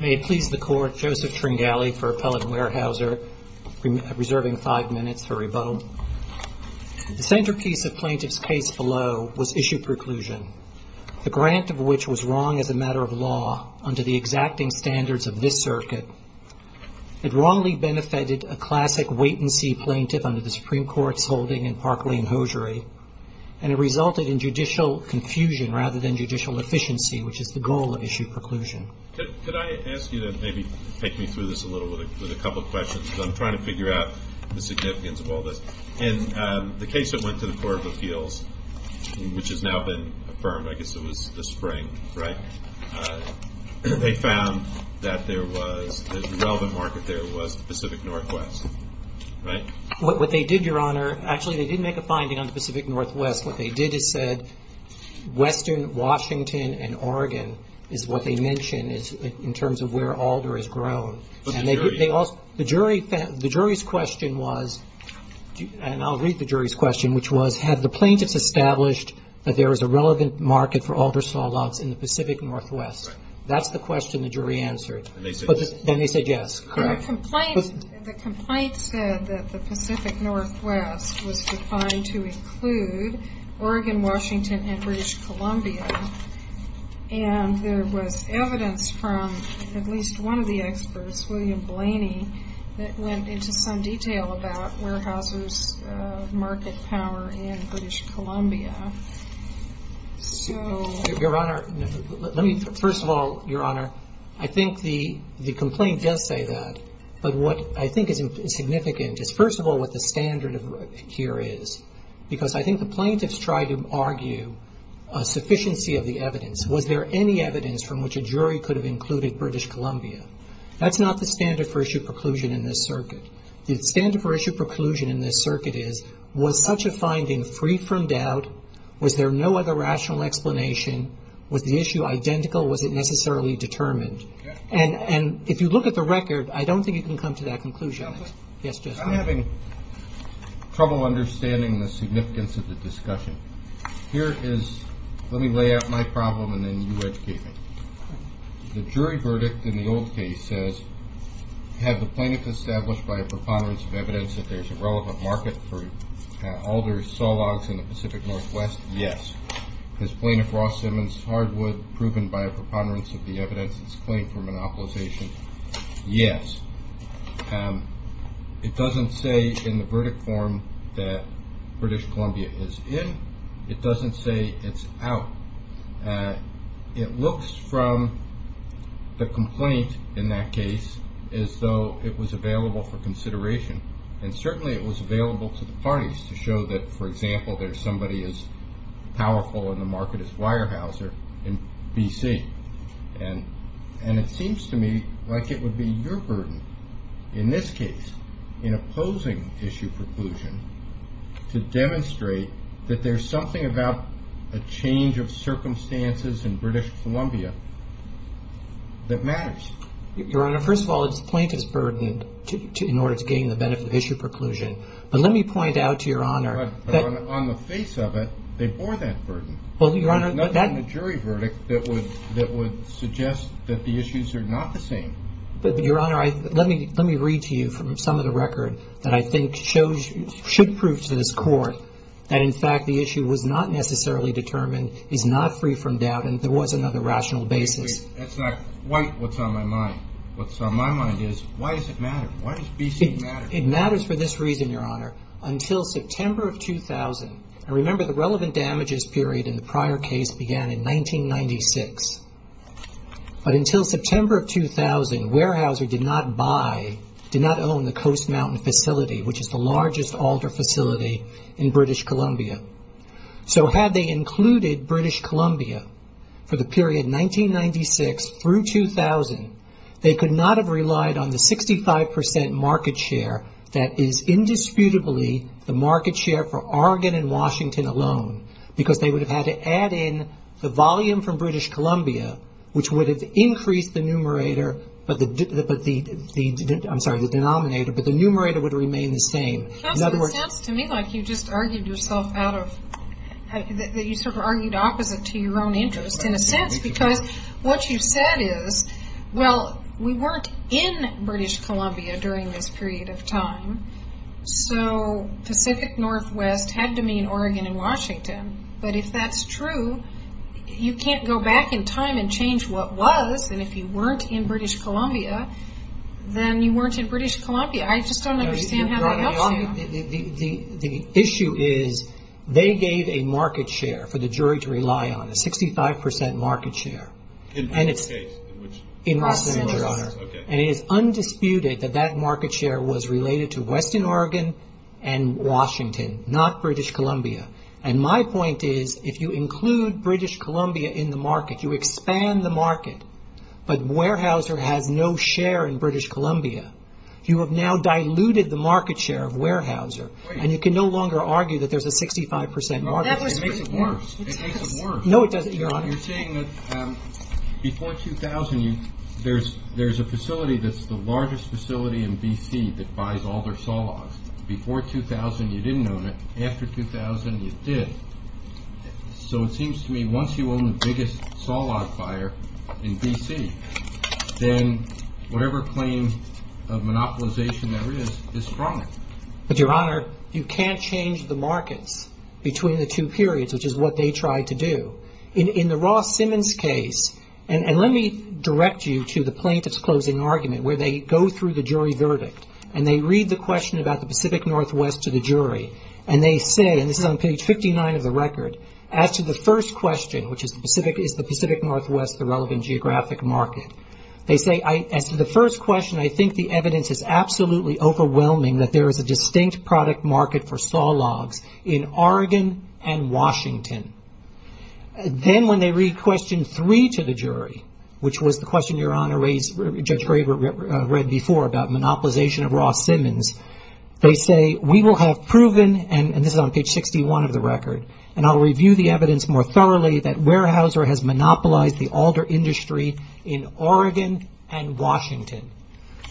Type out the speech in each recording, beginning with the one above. May it please the Court, Joseph Tringali for Appellant Weyerhauser, reserving five minutes for rebuttal. The centerpiece of plaintiff's case below was issue preclusion, the grant of which was wrong as a matter of law under the exacting standards of this circuit. It wrongly benefited a classic wait-and-see plaintiff under the Supreme Court's holding in Parkway and Hosiery, and it resulted in judicial confusion rather than judicial efficiency, which is the goal of issue preclusion. Could I ask you to maybe take me through this a little bit with a couple of questions? I'm trying to figure out the significance of all this. In the case that went to the Court of Appeals, which has now been affirmed, I guess it was this spring, right? They found that there was, the relevant market there was the Pacific Northwest, right? What they did, Your Honor, actually they didn't make a finding on the Pacific Northwest. What they did is said Western Washington and Oregon is what they mention in terms of where Alder has grown. The jury? The jury, the jury's question was, and I'll read the jury's question, which was, had the plaintiffs established that there was a relevant market for alder saw lots in the Pacific Northwest? Right. That's the question the jury answered. And they said yes? And they said yes, correct. And the complaint, the complaint said that the Pacific Northwest was defined to include Oregon, Washington, and British Columbia. And there was evidence from at least one of the experts, William Blaney, that went into some detail about warehousers' market power in British Columbia. So... Your Honor, let me, first of all, Your Honor, I think the complaint does say that. But what I think is significant is, first of all, what the standard here is. Because I think the plaintiffs tried to argue a sufficiency of the evidence. Was there any evidence from which a jury could have included British Columbia? That's not the standard for issue preclusion in this circuit. The standard for issue preclusion in this circuit is, was such a finding free from doubt? Was there no other rational explanation? Was the issue identical? Was it necessarily determined? And if you look at the record, I don't think you can come to that conclusion. Counselor? Yes, Judge. I'm having trouble understanding the significance of the discussion. Here is, let me lay out my problem and then you educate me. The jury verdict in the old case says, have the plaintiffs established by a preponderance of evidence that there's a relevant market for alder saw logs in the Pacific Northwest? Yes. Has Plaintiff Ross Simmons Hardwood proven by a preponderance of the evidence his claim for monopolization? Yes. It doesn't say in the verdict form that British Columbia is in. It doesn't say it's out. It looks from the complaint in that case as though it was available for consideration. And certainly it was available to the parties to show that, for example, there's somebody as powerful in the market as Weyerhaeuser in B.C. And, and it seems to me like it would be your burden in this case, in opposing issue preclusion, to demonstrate that there's something about a change of circumstances in British Columbia that matters. Your Honor, first of all, it's plaintiff's burden in order to gain the benefit of issue preclusion. But let me point out to your Honor that... But on the face of it, they bore that burden. Well, Your Honor, that... Nothing in the jury verdict that would, that would suggest that the issues are not the same. But, but Your Honor, I, let me, let me read to you from some of the record that I think shows, should prove to this Court that, in fact, the issue was not necessarily determined, is not free from doubt, and there was another rational basis. That's not quite what's on my mind. What's on my mind is, why does it matter? Why does B.C. matter? It matters for this reason, Your Honor. Until September of 2000, and remember the relevant damages period in the prior case began in 1996. But until September of 2000, Weyerhaeuser did not buy, did not own the Coast Mountain facility, which is the largest altar facility in British Columbia. So had they included British Columbia for the period 1996 through 2000, they could not have relied on the 65 percent market share that is indisputably the market share for Oregon and Washington alone, because they would have had to add in the volume from British Columbia, which would have increased the numerator, but the, but the, the, I'm sorry, the denominator, but the numerator would remain the same. Counsel, it sounds to me like you just argued yourself out of, that you sort of argued opposite to your own interest, in a sense, because what you said is, well, we weren't in British Columbia during this period of time, so Pacific Northwest had to mean Oregon and Washington. But if that's true, you can't go back in time and change what was, and if you weren't in British Columbia, then you weren't in British Columbia. I just don't understand how that helps you. The, the, the, the issue is they gave a market share for the jury to rely on, a 65 percent market share. In which case? In Los Angeles. In Los Angeles. Okay. And it is undisputed that that market share was related to Western Oregon and Washington, not British Columbia. And my point is, if you include British Columbia in the market, you expand the market, but Weyerhaeuser has no share in British Columbia, you have now Weyerhaeuser. Right. And you can no longer argue that there's a 65 percent market share. Well, that was. It makes it worse. It makes it worse. No, it doesn't, Your Honor. You're saying that before 2000, you, there's, there's a facility that's the largest facility in BC that buys all their saw logs. Before 2000, you didn't own it. After 2000, you did. So it seems to me, once you own the biggest saw log buyer in BC, then whatever claim of monopolization there is, is chronic. But, Your Honor, you can't change the markets between the two periods, which is what they tried to do. In, in the Ross Simmons case, and, and let me direct you to the plaintiff's closing argument, where they go through the jury verdict, and they read the question about the Pacific Northwest to the jury, and they say, and this is on page 59 of the record, as to the first question, which is the Pacific, is the Pacific Northwest the relevant geographic market? They say, I, as to the first question, I think the evidence is absolutely overwhelming that there is a distinct product market for saw logs in Oregon and Washington. Then, when they read question three to the jury, which was the question Your Honor raised, Judge Graber read before about monopolization of Ross Simmons, they say, we will have proven, and this is on page 61 of the record, and I'll review the evidence more thoroughly that Weyerhaeuser has monopolized the alder industry in Oregon and Washington.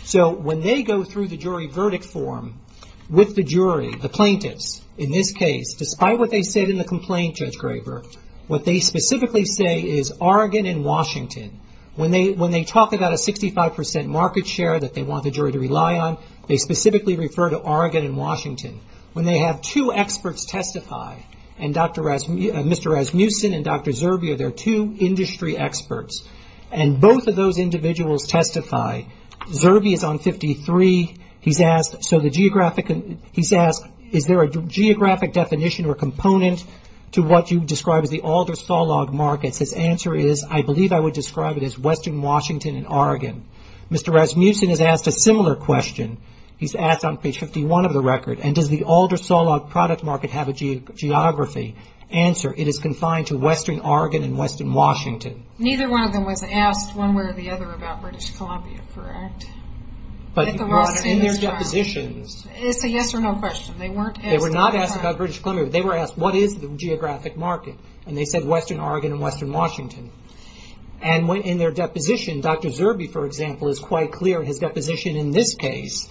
So, when they go through the jury verdict form, with the jury, the plaintiffs, in this case, despite what they said in the complaint, Judge Graber, what they specifically say is Oregon and Washington. When they, when they talk about a 65 percent market share that they want the jury to rely on, they specifically refer to Oregon and Washington. When they have two experts testify, and Dr. Rasmussen, Mr. Rasmussen and Dr. Zerbe are their two industry experts, and both of those individuals testify. Zerbe is on 53. He's asked, so the geographic, he's asked, is there a geographic definition or component to what you describe as the alder saw log markets? His answer is, I believe I would describe it as western Washington and Oregon. Mr. Rasmussen has asked a similar question. He's asked on page 51 of the record, and does the alder saw log product market have a geography? Answer, it is confined to western Oregon and western Washington. Neither one of them was asked one way or the other about British Columbia, correct? But in their depositions. It's a yes or no question. They weren't asked. They were not asked about British Columbia. They were asked, what is the geographic market? They said western Oregon and western Washington. In their deposition, Dr. Zerbe, for example, is quite clear in his deposition in this case,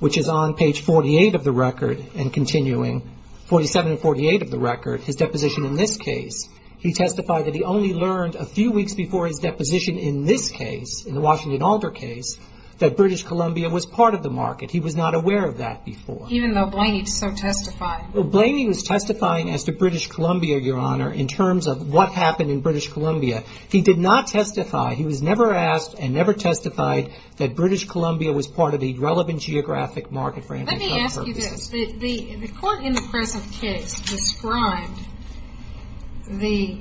which is on page 48 of the record, and continuing, 47 and 48 of the record, his deposition in this case, he testified that he only learned a few weeks before his deposition in this case, in the Washington alder case, that British Columbia was part of the market. He was not aware of that before. Even though Blaney so testified. Blaney was testifying as to British Columbia, Your Honor, in terms of what happened in British Columbia. He did not testify. He was never asked and never testified that British Columbia was part of the relevant geographic market for anti-drug purposes. The court in the present case described the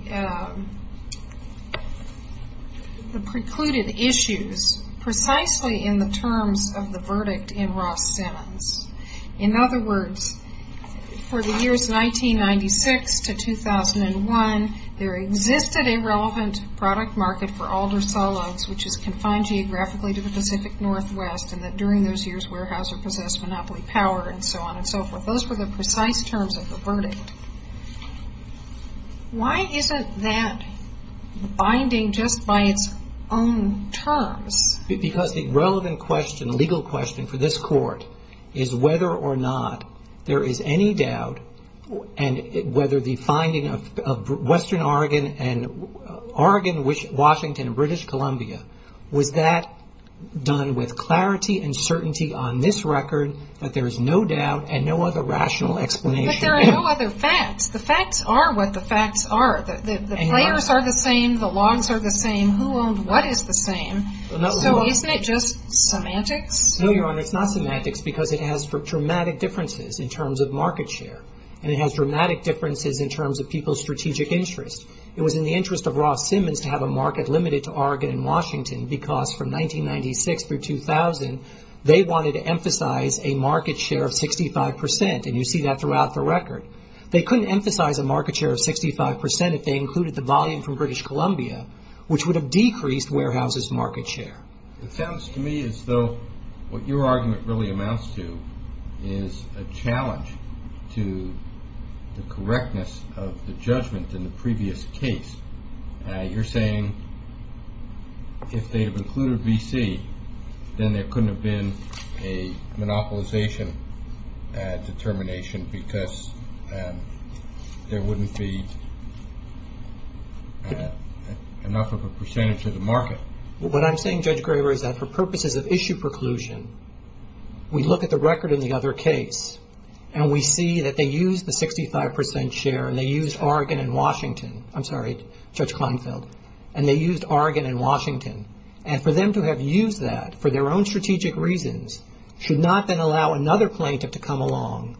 precluded issues precisely in the terms of the verdict in Ross Simmons. In other words, for the years 1996 to 2001, there existed a relevant product market for alder saw loads, which is confined geographically to the Pacific Northwest, and that during those years, Weyerhaeuser possessed monopoly power, and so on and so forth. Those were the precise terms of the verdict. Why isn't that binding just by its own terms? Because the relevant question, legal question for this court, is whether or not there is any doubt, and whether the finding of Western Oregon and Oregon, Washington, British Columbia, was that done with clarity and certainty on this record, that there is no doubt and no other rational explanation. But there are no other facts. The facts are what the facts are. The players are the same. The laws are the same. Who owned what is the same? So isn't it just semantics? No, Your Honor. It's not semantics, because it has dramatic differences in terms of market share, and it has dramatic differences in terms of people's strategic interests. It was in the interest of Ross Simmons to have a market limited to Oregon and Washington, because from 1996 through 2000, they wanted to emphasize a market share of 65%, and you see that throughout the record. They couldn't emphasize a market share of 65% if they included the volume from British Columbia, which would have decreased Weyerhaeuser's market share. It sounds to me as though what your argument really amounts to is a challenge to the correctness of the judgment in the previous case. You're saying if they have included VC, then there couldn't have been a monopolization determination, because there wouldn't be enough of a percentage of the market. What I'm saying, Judge Graber, is that for purposes of issue preclusion, we look at the Washington, and they used Oregon and Washington, and for them to have used that for their own strategic reasons should not then allow another plaintiff to come along,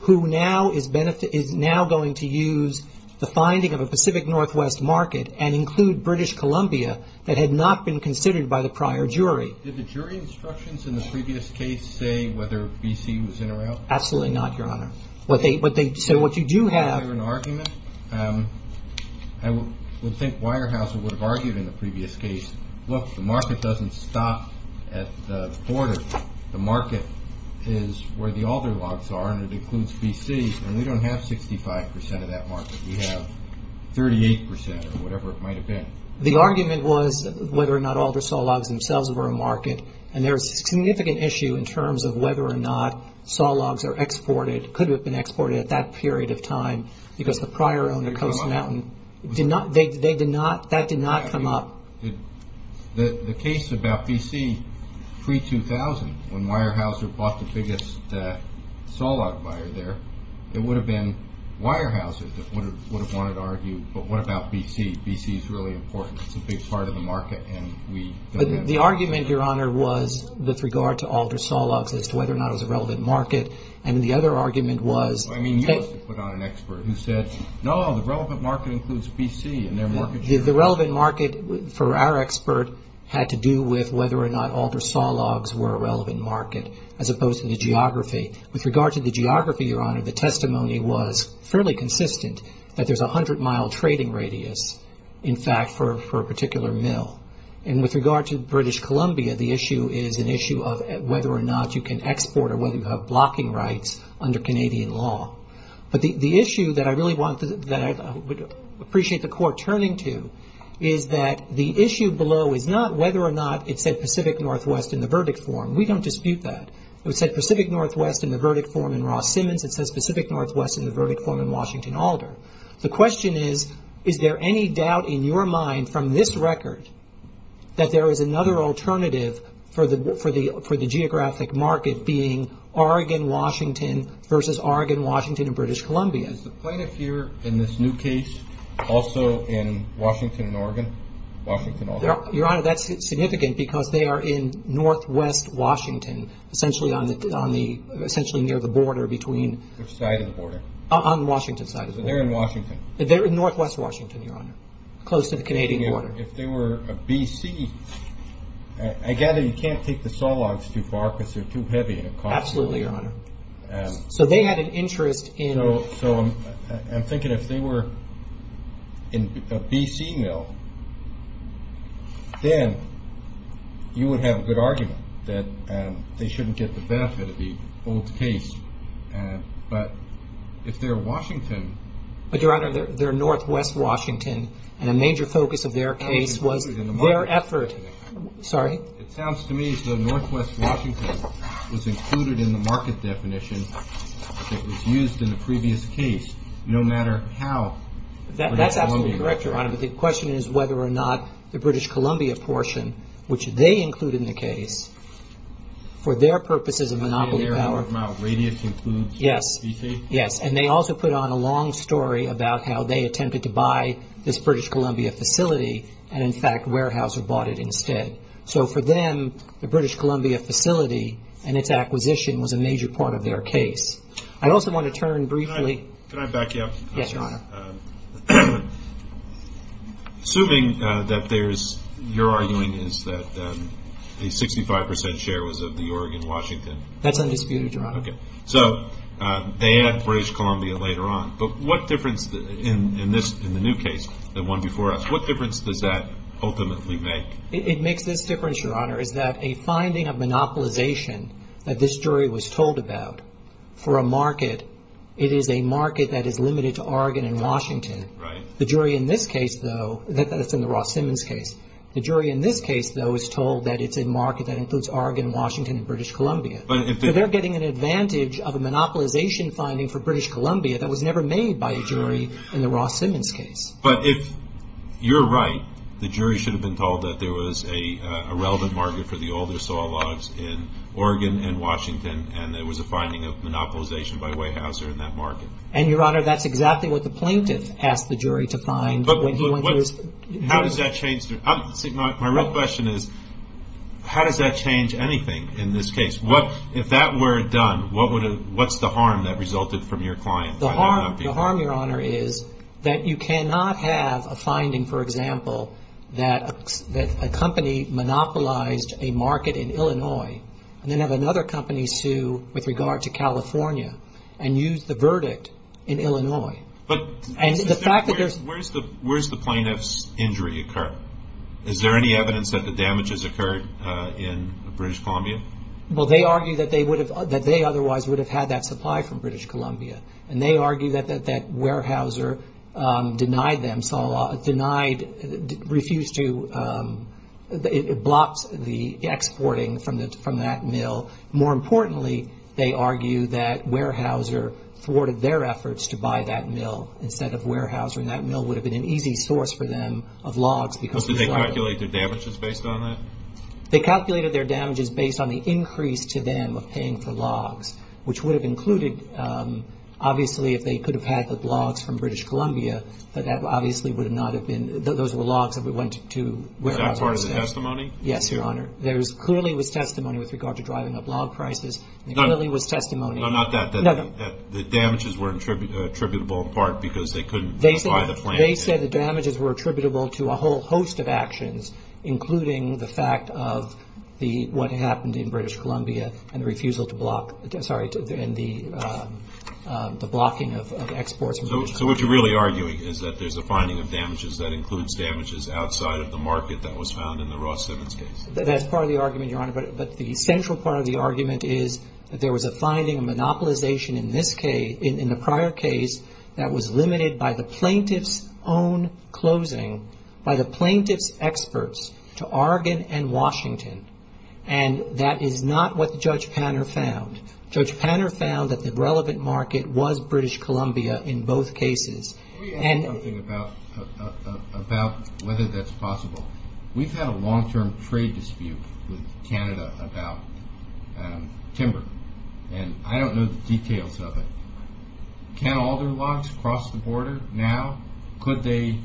who now is going to use the finding of a Pacific Northwest market and include British Columbia that had not been considered by the prior jury. Did the jury instructions in the previous case say whether VC was in or out? Absolutely not, Your Honor. So what you do have- I have an argument. I would think Weyerhaeuser would have argued in the previous case, look, the market doesn't stop at the border. The market is where the Alder logs are, and it includes VC, and we don't have 65% of that market. We have 38% or whatever it might have been. The argument was whether or not Alder Saw Logs themselves were a market, and there's a significant issue in terms of whether or not saw logs are exported, could have been exported at that period of time, because the prior owner, Coast and Mountain, that did not come up. The case about VC pre-2000, when Weyerhaeuser bought the biggest saw log buyer there, it would have been Weyerhaeuser that would have wanted to argue, but what about VC? VC is really important. It's a big part of the market, and we don't have- The argument, Your Honor, was with regard to Alder Saw Logs as to whether or not it was a relevant market, and the other argument was- I mean, you must have put on an expert who said, no, the relevant market includes VC and their market share. The relevant market, for our expert, had to do with whether or not Alder Saw Logs were a relevant market, as opposed to the geography. With regard to the geography, Your Honor, the testimony was fairly consistent, that there's a 100-mile trading radius, in fact, for a particular mill. And with regard to British Columbia, the issue is an issue of whether or not you can export, or whether you have blocking rights under Canadian law. But the issue that I really want, that I would appreciate the Court turning to, is that the issue below is not whether or not it said Pacific Northwest in the verdict form. We don't dispute that. If it said Pacific Northwest in the verdict form in Ross Simmons, it says Pacific Northwest in the verdict form in Washington Alder. The question is, is there any doubt in your mind, from this record, that there is another alternative for the geographic market being Oregon-Washington versus Oregon-Washington in British Columbia? Is the plaintiff here, in this new case, also in Washington and Oregon? Your Honor, that's significant because they are in Northwest Washington, essentially near the border between- On the Washington side of the border. They're in Washington. They're in Northwest Washington, Your Honor, close to the Canadian border. If they were a BC, I gather you can't take the saw logs too far because they're too heavy and it costs- Absolutely, Your Honor. So they had an interest in- So I'm thinking if they were a BC mill, then you would have a good argument that they But, Your Honor, they're Northwest Washington and a major focus of their case was their effort- Sorry? It sounds to me as though Northwest Washington was included in the market definition that was used in the previous case, no matter how- That's absolutely correct, Your Honor, but the question is whether or not the British Columbia portion, which they include in the case, for their purposes of monopoly power- Radius includes BC? Yes, and they also put on a long story about how they attempted to buy this British Columbia facility and, in fact, Weyerhaeuser bought it instead. So for them, the British Columbia facility and its acquisition was a major part of their case. I also want to turn briefly- Can I back you up? Yes, Your Honor. Assuming that there's- your arguing is that the 65 percent share was of the Oregon- Washington. That's undisputed, Your Honor. Okay. So they add British Columbia later on, but what difference in the new case, the one before us, what difference does that ultimately make? It makes this difference, Your Honor, is that a finding of monopolization that this jury was told about for a market, it is a market that is limited to Oregon and Washington. Right. The jury in this case, though- that's in the Ross Simmons case. The jury in this case, though, is told that it's a market that includes Oregon, Washington, and British Columbia. But if- So they're getting an advantage of a monopolization finding for British Columbia that was never made by a jury in the Ross Simmons case. But if you're right, the jury should have been told that there was a relevant market for the older saw logs in Oregon and Washington, and there was a finding of monopolization by Weyerhaeuser in that market. And, Your Honor, that's exactly what the plaintiff asked the jury to find when he went to- But how does that change- my real question is, how does that change anything in this case? If that were done, what's the harm that resulted from your client? The harm, Your Honor, is that you cannot have a finding, for example, that a company monopolized a market in Illinois and then have another company sue with regard to California and use the verdict in Illinois. But- And the fact that there's- Where's the plaintiff's injury occur? Is there any evidence that the damage has occurred in British Columbia? Well, they argue that they would have- that they otherwise would have had that supply from British Columbia. And they argue that Weyerhaeuser denied them- denied- refused to- it blocked the exporting from that mill. More importantly, they argue that Weyerhaeuser thwarted their efforts to buy that mill instead of Weyerhaeuser. And that mill would have been an easy source for them of logs because- Did they calculate their damages based on that? They calculated their damages based on the increase to them of paying for logs, which would have included- obviously, if they could have had the logs from British Columbia, that obviously would not have been- those were logs that went to Weyerhaeuser. Is that part of the testimony? Yes, Your Honor. There clearly was testimony with regard to driving up log prices. There clearly was testimony- No, not that. The damages were attributable in part because they couldn't buy the plant. They said the damages were attributable to a whole host of actions, including the fact of the- what happened in British Columbia and the refusal to block- sorry, and the blocking of exports from British Columbia. So what you're really arguing is that there's a finding of damages that includes damages outside of the market that was found in the Ross-Stevens case. That's part of the argument, Your Honor. But the central part of the argument is that there was a finding, a monopolization in this case- in the prior case that was limited by the plaintiff's own closing, by the plaintiff's experts to Oregon and Washington. And that is not what Judge Panner found. Judge Panner found that the relevant market was British Columbia in both cases. Can we add something about whether that's possible? We've had a long-term trade dispute with Canada about timber. And I don't know the details of it. Can alder logs cross the border now? Could they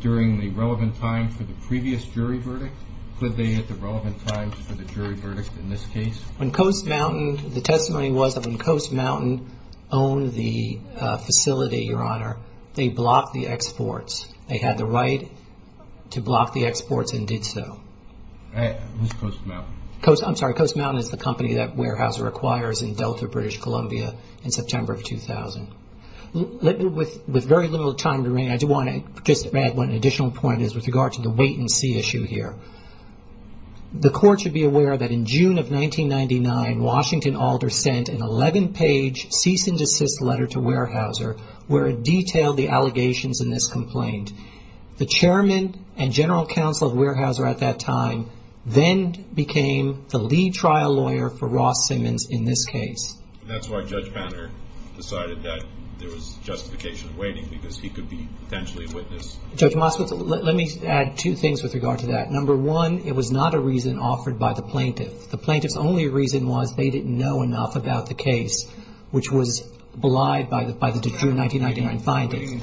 during the relevant time for the previous jury verdict? Could they at the relevant time for the jury verdict in this case? When Coast Mountain- the testimony was that when Coast Mountain owned the facility, Your Honor, they blocked the exports. They had the right to block the exports and did so. It was Coast Mountain. I'm sorry. Coast Mountain is the company that Weyerhaeuser acquires in Delta, British Columbia, in September of 2000. With very little time remaining, I do want to just add one additional point with regard to the wait-and-see issue here. The Court should be aware that in June of 1999, Washington Alder sent an 11-page cease-and-desist letter to The Chairman and General Counsel of Weyerhaeuser at that time then became the lead trial lawyer for Ross Simmons in this case. And that's why Judge Banner decided that there was justification of waiting because he could be potentially a witness. Judge Moskowitz, let me add two things with regard to that. Number one, it was not a reason offered by the plaintiff. The plaintiff's only reason was they didn't know enough about the case, which was belied by the June 1999 findings.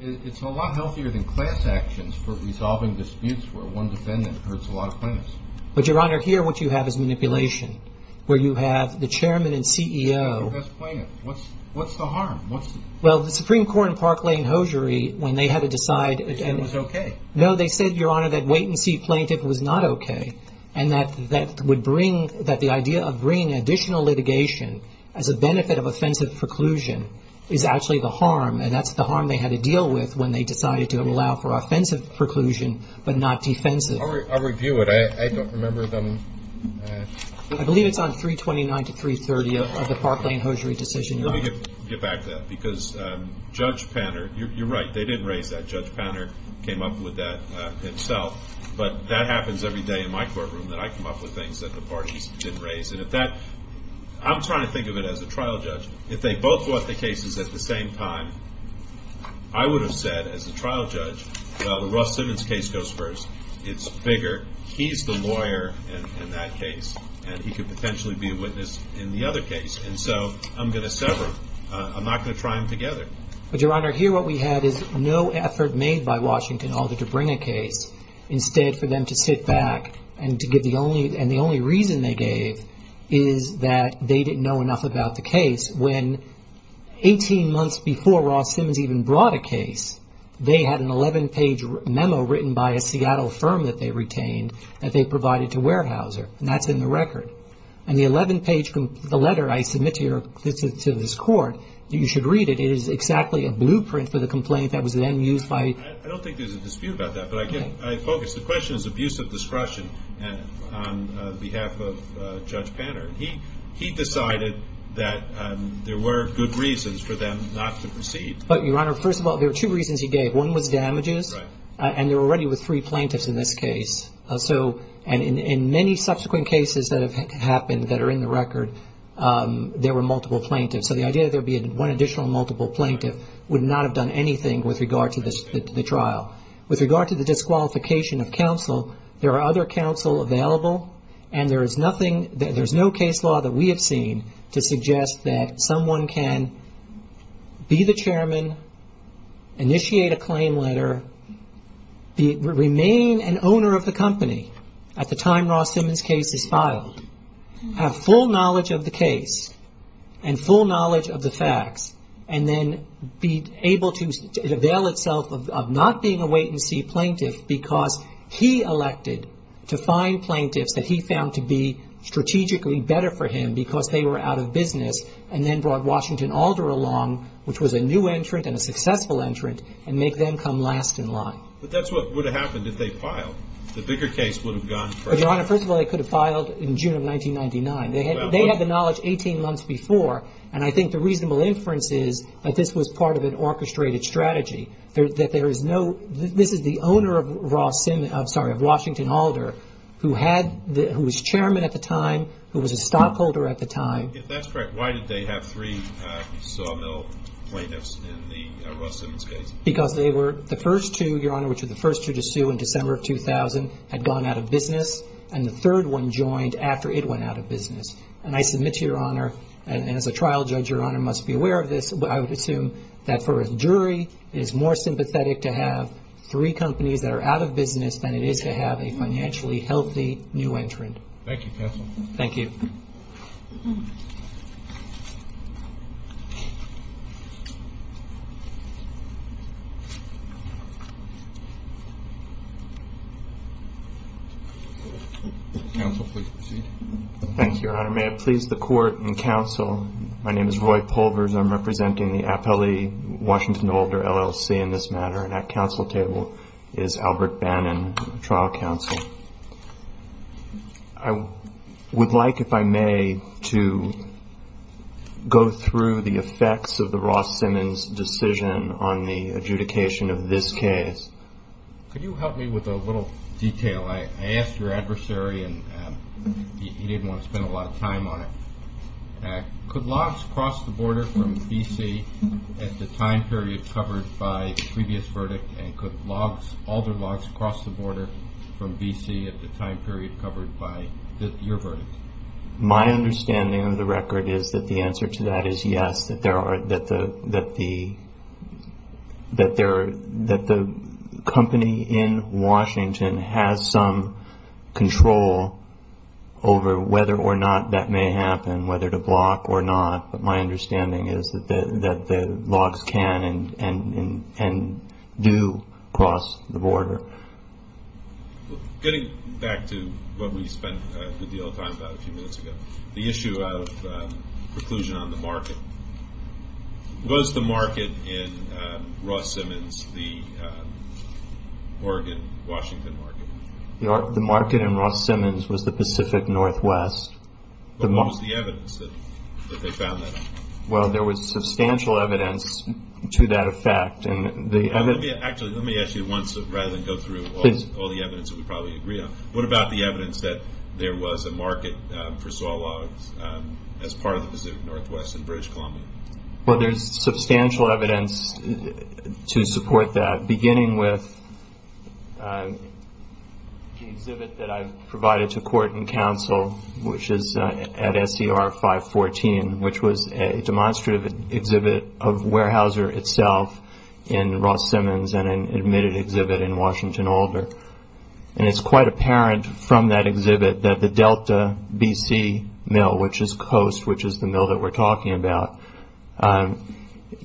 It's a lot healthier than class actions for resolving disputes where one defendant hurts a lot of plaintiffs. But, Your Honor, here what you have is manipulation where you have the Chairman and CEO. What's the harm? Well, the Supreme Court in Park Lane Hosiery, when they had to decide. It was okay. No, they said, Your Honor, that wait-and-see plaintiff was not okay and that the idea of bringing additional litigation as a benefit of offensive preclusion is actually the harm. And that's the harm they had to deal with when they decided to allow for offensive preclusion but not defensive. I'll review it. I don't remember them. I believe it's on 329 to 330 of the Park Lane Hosiery decision. Let me get back to that because Judge Banner, you're right, they didn't raise that. Judge Banner came up with that himself. But that happens every day in my courtroom that I come up with things that the parties didn't raise. I'm trying to think of it as a trial judge. If they both brought the cases at the same time, I would have said as a trial judge, well, the Russ Simmons case goes first. It's bigger. He's the lawyer in that case, and he could potentially be a witness in the other case. And so I'm going to sever. I'm not going to try them together. But, Your Honor, here what we had is no effort made by Washington other to bring a case. Instead, for them to sit back and to give the only reason they gave is that they didn't know enough about the case. When 18 months before Ross Simmons even brought a case, they had an 11-page memo written by a Seattle firm that they retained that they provided to Weyerhaeuser, and that's in the record. And the 11-page letter I submit to this Court, you should read it. It is exactly a blueprint for the complaint that was then used by- I don't think there's a dispute about that, but I focus. The question is abuse of discretion on behalf of Judge Panner. He decided that there were good reasons for them not to proceed. But, Your Honor, first of all, there were two reasons he gave. One was damages, and they were already with three plaintiffs in this case. And in many subsequent cases that have happened that are in the record, there were multiple plaintiffs. So the idea that there would be one additional multiple plaintiff would not have done anything with regard to the trial. With regard to the disqualification of counsel, there are other counsel available, and there is no case law that we have seen to suggest that someone can be the chairman, initiate a claim letter, remain an owner of the company at the time Ross Simmons' case is filed, have full knowledge of the case and full knowledge of the facts, and then be able to avail itself of not being a wait-and-see plaintiff because he elected to find plaintiffs that he found to be strategically better for him because they were out of business, and then brought Washington Alder along, which was a new entrant and a successful entrant, and make them come last in line. But that's what would have happened if they filed. The bigger case would have gone first. Well, Your Honor, first of all, they could have filed in June of 1999. They had the knowledge 18 months before, and I think the reasonable inference is that this was part of an orchestrated strategy, that there is no – this is the owner of Ross – sorry, of Washington Alder, who was chairman at the time, who was a stockholder at the time. If that's correct, why did they have three sawmill plaintiffs in the Ross Simmons case? Because they were the first two, Your Honor, in December of 2000 had gone out of business, and the third one joined after it went out of business. And I submit to Your Honor, and as a trial judge, Your Honor, must be aware of this, but I would assume that for a jury, it is more sympathetic to have three companies that are out of business than it is to have a financially healthy new entrant. Thank you, counsel. Thank you. Counsel, please proceed. Thank you, Your Honor. May it please the Court and counsel, my name is Roy Pulvers. I'm representing the appellee Washington Alder LLC in this matter, and at counsel table is Albert Bannon, trial counsel. I would like, if I may, to go through the effects of the Ross Simmons decision on the adjudication of this case. Could you help me with a little detail? I asked your adversary, and he didn't want to spend a lot of time on it. Could logs cross the border from B.C. at the time period covered by the previous verdict, and could Alder logs cross the border from B.C. at the time period covered by your verdict? My understanding of the record is that the answer to that is yes, that the company in Washington has some control over whether or not that may happen, whether to block or not. But my understanding is that the logs can and do cross the border. Getting back to what we spent a good deal of time about a few minutes ago, the issue of preclusion on the market. Was the market in Ross Simmons the Oregon-Washington market? The market in Ross Simmons was the Pacific Northwest. What was the evidence that they found that? Well, there was substantial evidence to that effect. Actually, let me ask you once, rather than go through all the evidence that we probably agree on. What about the evidence that there was a market for saw logs as part of the Pacific Northwest in B.C.? Well, there's substantial evidence to support that, beginning with the exhibit that I provided to court and counsel, which is at SCR 514, which was a demonstrative exhibit of Weyerhaeuser itself in Ross Simmons and an admitted exhibit in Washington Alder. And it's quite apparent from that exhibit that the Delta B.C. mill, which is Coast, which is the mill that we're talking about,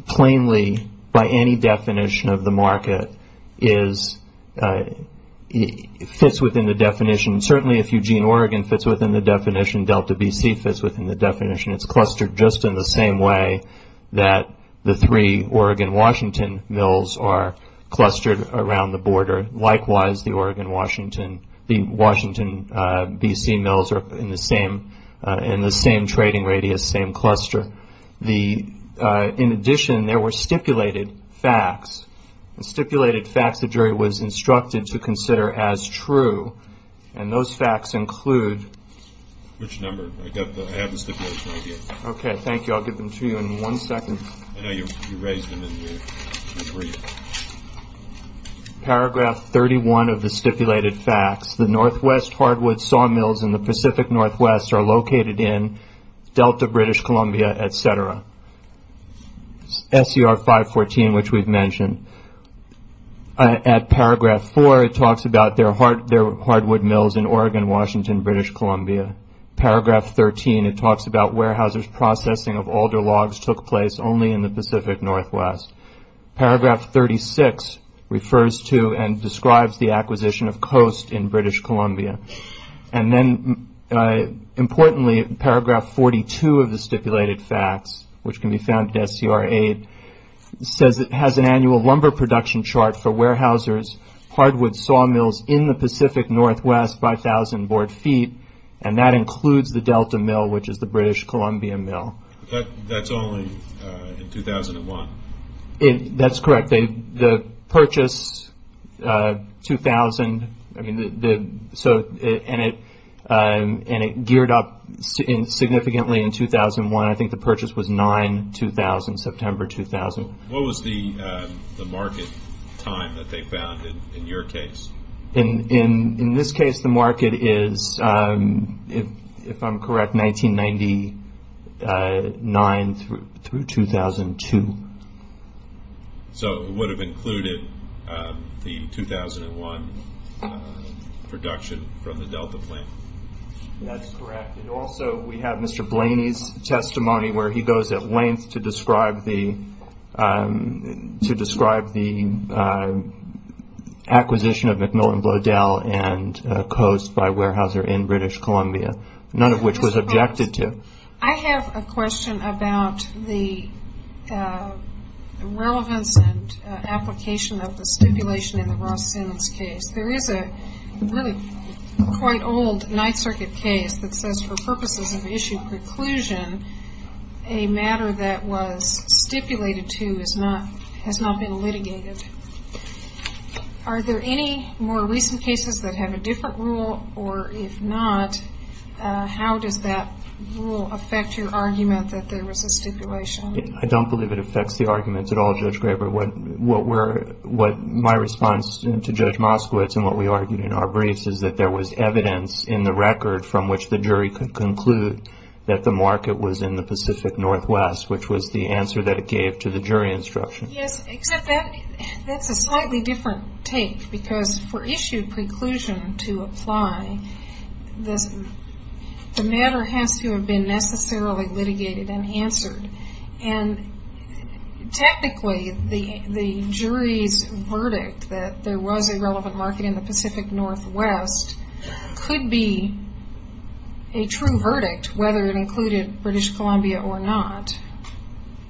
plainly, by any definition of the market, fits within the definition. Certainly, if Eugene, Oregon fits within the definition, Delta B.C. fits within the definition. It's clustered just in the same way that the three Oregon-Washington mills are clustered around the border. Likewise, the Oregon-Washington B.C. mills are in the same trading radius, same cluster. In addition, there were stipulated facts, stipulated facts the jury was instructed to consider as true, and those facts include- Which number? I have the stipulation right here. Okay, thank you. I'll give them to you in one second. I know you raised them in your brief. Paragraph 31 of the stipulated facts, the Northwest hardwood sawmills in the Pacific Northwest are located in Delta, B.C., etc. SCR 514, which we've mentioned. At paragraph 4, it talks about their hardwood mills in Oregon, Washington, B.C. Paragraph 13, it talks about Weyerhaeuser's processing of alder logs took place only in the Pacific Northwest. Paragraph 36 refers to and describes the acquisition of Coast in British Columbia. Importantly, paragraph 42 of the stipulated facts, which can be found at SCR 8, says it has an annual lumber production chart for Weyerhaeuser's hardwood sawmills in the Pacific Northwest by 1,000 board feet, and that includes the Delta mill, which is the British Columbia mill. That's only in 2001? That's correct. The purchase, 2000, and it geared up significantly in 2001. I think the purchase was 9-2000, September 2000. What was the market time that they found in your case? In this case, the market is, if I'm correct, 1999 through 2002. So it would have included the 2001 production from the Delta plant? That's correct. Also, we have Mr. Blaney's testimony where he goes at length to describe the acquisition of McMillan Bloedel and Coast by Weyerhaeuser in British Columbia, none of which was objected to. I have a question about the relevance and application of the stipulation in the Ross Sims case. There is a really quite old Ninth Circuit case that says for purposes of issue preclusion, a matter that was stipulated to has not been litigated. Are there any more recent cases that have a different rule, or if not, how does that rule affect your argument that there was a stipulation? I don't believe it affects the argument at all, Judge Graber. My response to Judge Moskowitz and what we argued in our briefs is that there was evidence in the record from which the jury could conclude that the market was in the Pacific Northwest, which was the answer that it gave to the jury instruction. Yes, except that's a slightly different tape because for issue preclusion to apply, the matter has to have been necessarily litigated and answered. And technically, the jury's verdict that there was a relevant market in the Pacific Northwest could be a true verdict whether it included British Columbia or not.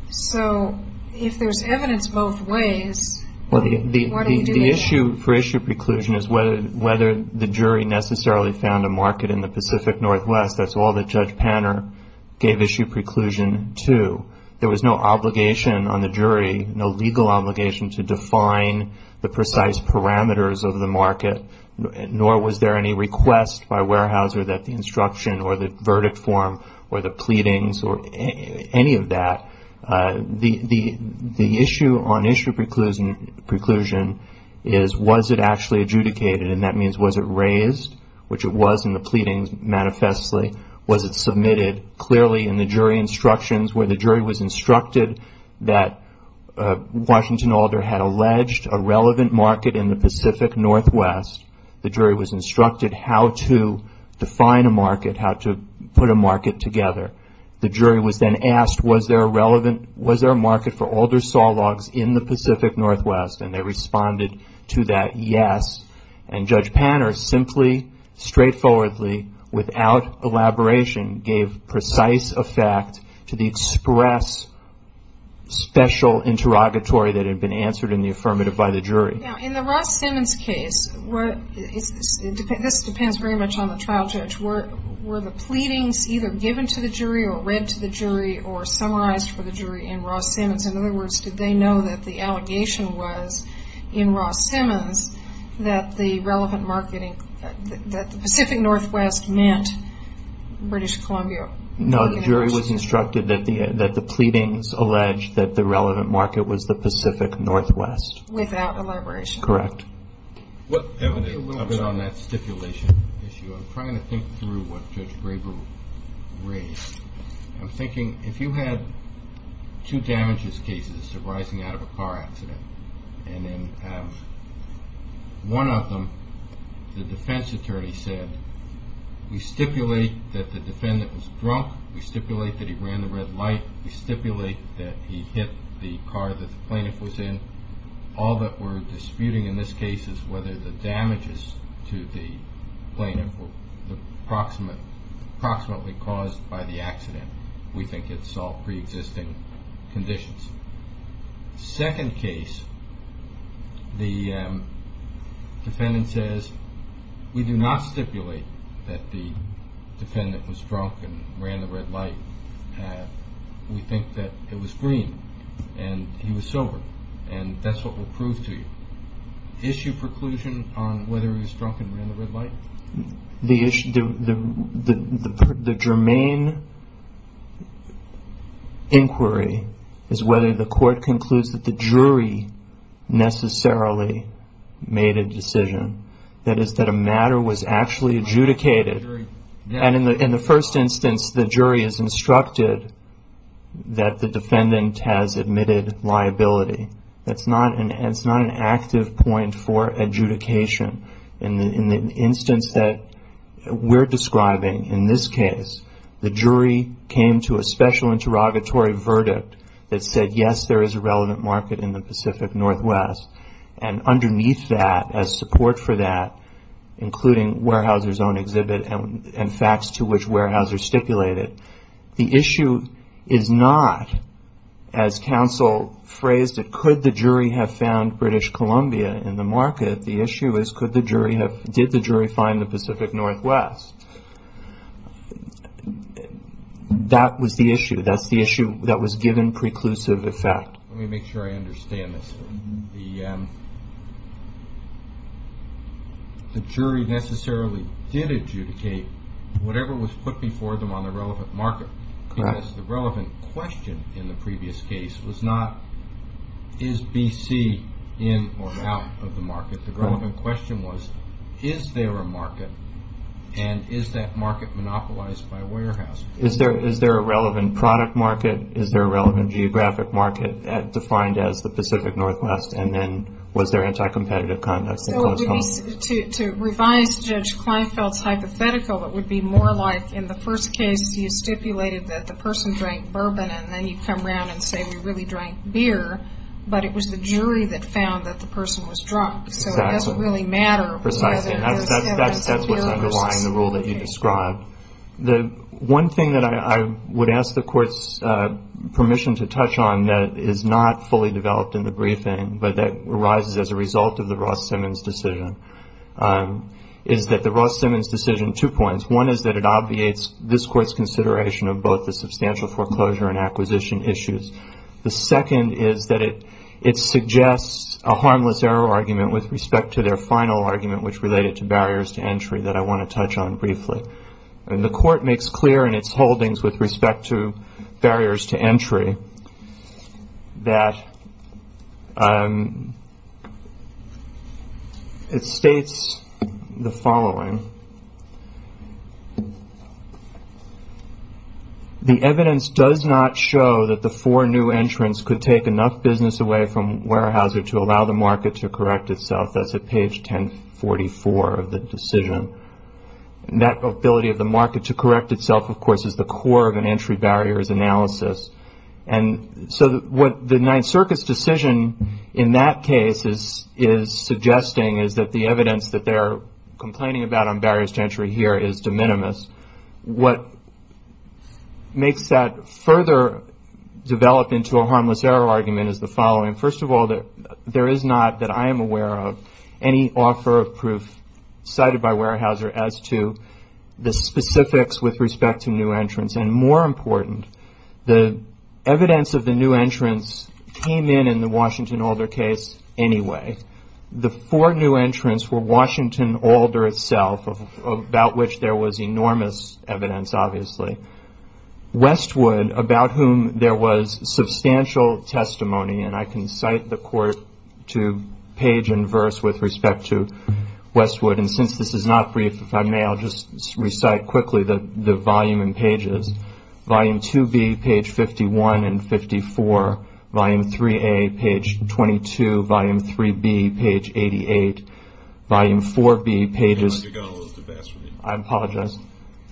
So if there's evidence both ways, why don't you do it? The issue for issue preclusion is whether the jury necessarily found a market in the Pacific Northwest. That's all that Judge Panner gave issue preclusion to. There was no obligation on the jury, no legal obligation to define the precise parameters of the market, nor was there any request by Weyerhaeuser that the instruction or the verdict form or the pleadings or any of that. The issue on issue preclusion is was it actually adjudicated, and that means was it raised, which it was in the pleadings manifestly. Was it submitted clearly in the jury instructions where the jury was instructed that Washington Alder had alleged a relevant market in the Pacific Northwest. The jury was instructed how to define a market, how to put a market together. The jury was then asked was there a market for alder saw logs in the Pacific Northwest, and they responded to that yes. And Judge Panner simply, straightforwardly, without elaboration, gave precise effect to the express special interrogatory that had been answered in the affirmative by the jury. Now, in the Ross-Simmons case, this depends very much on the trial judge, were the pleadings either given to the jury or read to the jury or summarized for the jury in Ross-Simmons? In other words, did they know that the allegation was in Ross-Simmons that the relevant marketing, that the Pacific Northwest meant British Columbia? No, the jury was instructed that the pleadings alleged that the relevant market was the Pacific Northwest. Without elaboration. Correct. What evidence on that stipulation issue? I'm trying to think through what Judge Graber raised. I'm thinking if you had two damages cases arising out of a car accident, and then one of them the defense attorney said we stipulate that the defendant was drunk, we stipulate that he ran the red light, we stipulate that he hit the car that the plaintiff was in, all that we're disputing in this case is whether the damages to the plaintiff were approximately caused by the accident. We think it's all pre-existing conditions. Second case, the defendant says we do not stipulate that the defendant was drunk and ran the red light. We think that it was green and he was sober, and that's what we'll prove to you. Issue preclusion on whether he was drunk and ran the red light? The germane inquiry is whether the court concludes that the jury necessarily made a decision. That is, that a matter was actually adjudicated, and in the first instance the jury is instructed that the defendant has admitted liability. That's not an active point for adjudication. In the instance that we're describing in this case, the jury came to a special interrogatory verdict that said, yes, there is a relevant market in the Pacific Northwest, and underneath that as support for that, including Weyerhaeuser's own exhibit and facts to which Weyerhaeuser stipulated, the issue is not, as counsel phrased it, could the jury have found British Columbia in the market? The issue is did the jury find the Pacific Northwest? That was the issue. That's the issue that was given preclusive effect. Let me make sure I understand this. The jury necessarily did adjudicate whatever was put before them on the relevant market, because the relevant question in the previous case was not, is B.C. in or out of the market? The relevant question was, is there a market, and is that market monopolized by Weyerhaeuser? Is there a relevant product market? Is there a relevant geographic market defined as the Pacific Northwest? And then was there anti-competitive conduct? To revise Judge Kleinfeld's hypothetical, it would be more like in the first case you stipulated that the person drank bourbon, and then you come around and say we really drank beer, but it was the jury that found that the person was drunk, so it doesn't really matter whether it was him or the beer. That's what's underlying the rule that you described. One thing that I would ask the Court's permission to touch on that is not fully developed in the briefing, but that arises as a result of the Ross-Simmons decision, is that the Ross-Simmons decision, two points. One is that it obviates this Court's consideration of both the substantial foreclosure and acquisition issues. The second is that it suggests a harmless error argument with respect to their final argument, which related to barriers to entry that I want to touch on briefly. The Court makes clear in its holdings with respect to barriers to entry that it states the following. The evidence does not show that the four new entrants could take enough business away from Weyerhaeuser to allow the market to correct itself. That's at page 1044 of the decision. That ability of the market to correct itself, of course, is the core of an entry barriers analysis. So what the Ninth Circus decision in that case is suggesting is that the evidence that they're complaining about on barriers to entry here is de minimis. What makes that further develop into a harmless error argument is the following. First of all, there is not, that I am aware of, any offer of proof cited by Weyerhaeuser as to the specifics with respect to new entrants. And more important, the evidence of the new entrants came in in the Washington Alder case anyway. The four new entrants were Washington Alder itself, about which there was enormous evidence, obviously. Westwood, about whom there was substantial testimony, and I can cite the court to page and verse with respect to Westwood. And since this is not brief, if I may, I'll just recite quickly the volume and pages. Volume 2B, page 51 and 54. Volume 3A, page 22. Volume 3B, page 88. Volume 4B, pages- You're going to have to get all those to pass for me. I apologize.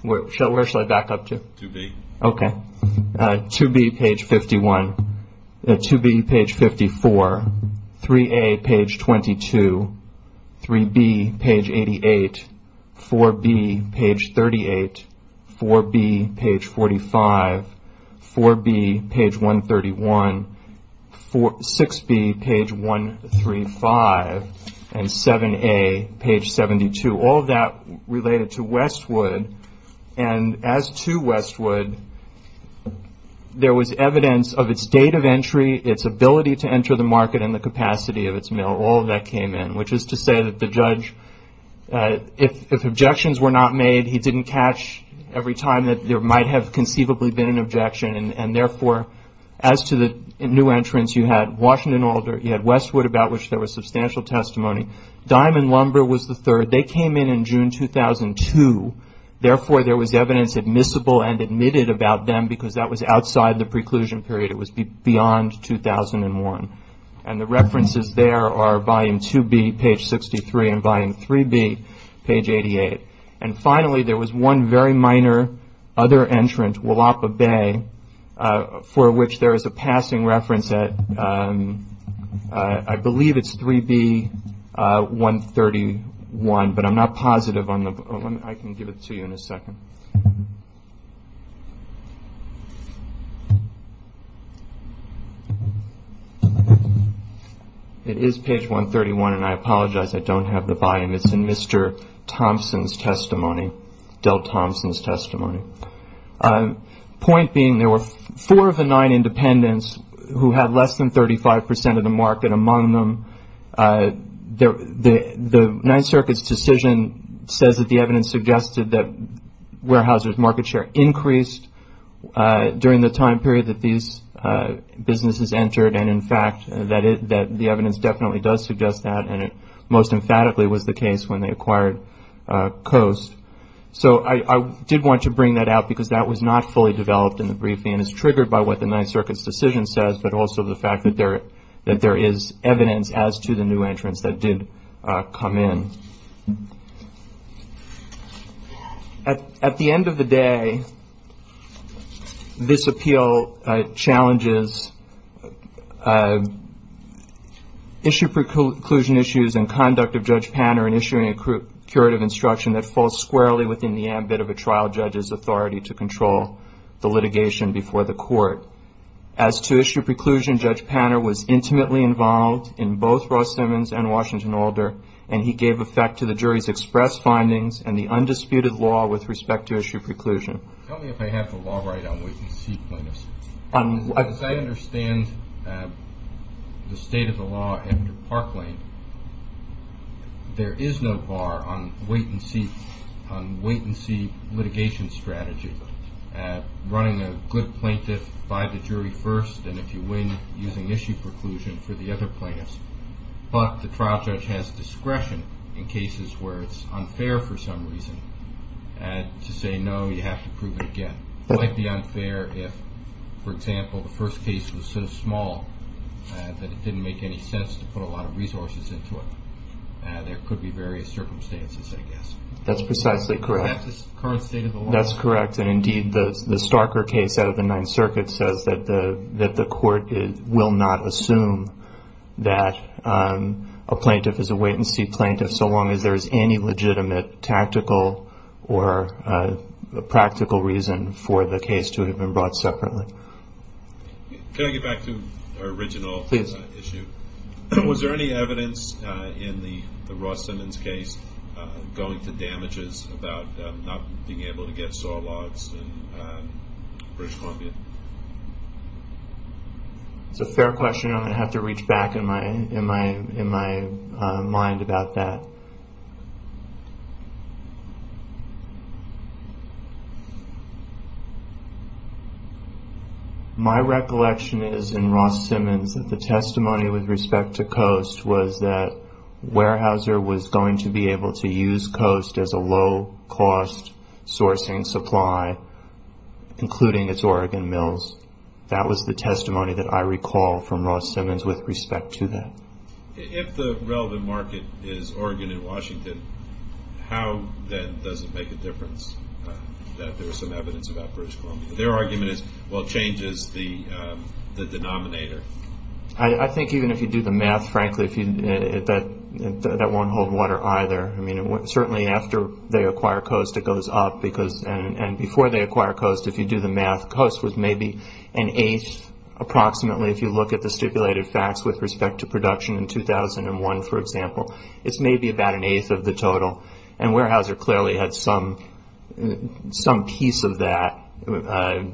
Where shall I back up to? 2B. Okay. 2B, page 51. 2B, page 54. 3A, page 22. 3B, page 88. 4B, page 38. 4B, page 45. 4B, page 131. 6B, page 135. And 7A, page 72. All of that related to Westwood. And as to Westwood, there was evidence of its date of entry, its ability to enter the market, and the capacity of its mill. All of that came in, which is to say that the judge, if objections were not made, he didn't catch every time that there might have conceivably been an objection. And therefore, as to the new entrants, you had Washington Oil, you had Westwood, about which there was substantial testimony. Diamond Lumber was the third. Westwood, they came in in June 2002. Therefore, there was evidence admissible and admitted about them because that was outside the preclusion period. It was beyond 2001. And the references there are volume 2B, page 63, and volume 3B, page 88. And finally, there was one very minor other entrant, Willapa Bay, for which there is a passing reference at, I believe it's 3B, 131. But I'm not positive on the, I can give it to you in a second. It is page 131, and I apologize, I don't have the volume. It's in Mr. Thompson's testimony, Dell Thompson's testimony. Point being, there were four of the nine independents who had less than 35% of the market among them. The Ninth Circuit's decision says that the evidence suggested that warehousers' market share increased during the time period that these businesses entered. And, in fact, the evidence definitely does suggest that, and it most emphatically was the case when they acquired Coast. So I did want to bring that out because that was not fully developed in the briefing and is triggered by what the Ninth Circuit's decision says, but also the fact that there is evidence as to the new entrants that did come in. At the end of the day, this appeal challenges issue preclusion issues and conduct of Judge Panner in issuing a curative instruction that falls squarely within the ambit of a trial judge's authority to control the litigation before the court. As to issue preclusion, Judge Panner was intimately involved in both Ross Simmons and Washington Alder, and he gave effect to the jury's express findings and the undisputed law with respect to issue preclusion. Tell me if I have the law right on what you're seeking. As I understand the state of the law under Parkland, there is no bar on wait-and-see litigation strategy, running a good plaintiff by the jury first, and if you win, using issue preclusion for the other plaintiffs. But the trial judge has discretion in cases where it's unfair for some reason to say, no, you have to prove it again. It might be unfair if, for example, the first case was so small that it didn't make any sense to put a lot of resources into it. There could be various circumstances, I guess. That's precisely correct. That's the current state of the law. That's correct, and indeed the Starker case out of the Ninth Circuit says that the court will not assume that a plaintiff is a wait-and-see plaintiff so long as there is any legitimate tactical or practical reason for the case to have been brought separately. Can I get back to our original issue? Was there any evidence in the Ross Simmons case going to damages about not being able to get saw logs in British Columbia? That's a fair question. I'm going to have to reach back in my mind about that. My recollection is in Ross Simmons that the testimony with respect to Coast was that Weyerhaeuser was going to be able to use Coast as a low-cost sourcing supply, including its Oregon mills. That was the testimony that I recall from Ross Simmons with respect to that. If the relevant market is Oregon and Washington, how then does it make a difference that there is some evidence about British Columbia? Their argument is, well, change is the denominator. I think even if you do the math, frankly, that won't hold water either. Certainly after they acquire Coast, it goes up. Before they acquire Coast, if you do the math, Coast was maybe an eighth approximately, if you look at the stipulated facts with respect to production in 2001, for example. It's maybe about an eighth of the total. Weyerhaeuser clearly had some piece of that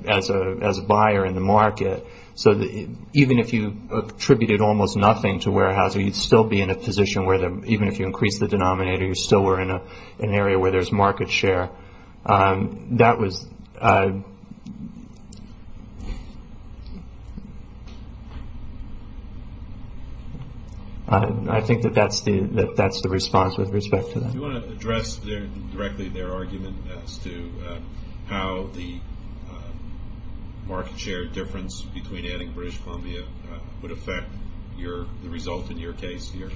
as a buyer in the market. Even if you attributed almost nothing to Weyerhaeuser, you'd still be in a position where even if you increased the denominator, you still were in an area where there's market share. I think that that's the response with respect to that. Do you want to address directly their argument as to how the market share difference between adding British Columbia would affect the result in your case here?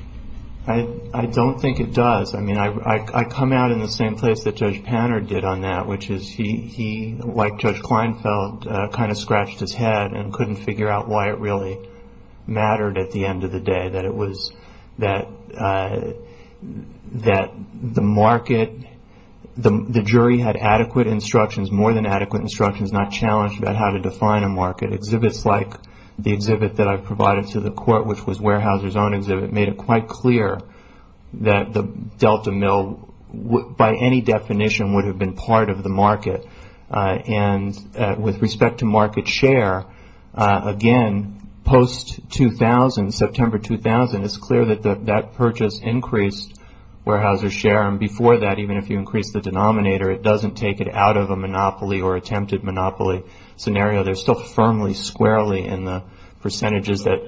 I don't think it does. I come out in the same place that Judge Panard did on that, which is he, like Judge Kleinfeld, kind of scratched his head and couldn't figure out why it really mattered at the end of the day, that the jury had adequate instructions, more than adequate instructions, not challenged about how to define a market. Exhibits like the exhibit that I provided to the court, which was Weyerhaeuser's own exhibit, made it quite clear that the Delta Mill, by any definition, would have been part of the market. With respect to market share, again, post-2000, September 2000, it's clear that that purchase increased Weyerhaeuser's share. Before that, even if you increased the denominator, it doesn't take it out of a monopoly or attempted monopoly scenario. They're still firmly squarely in the percentages. Are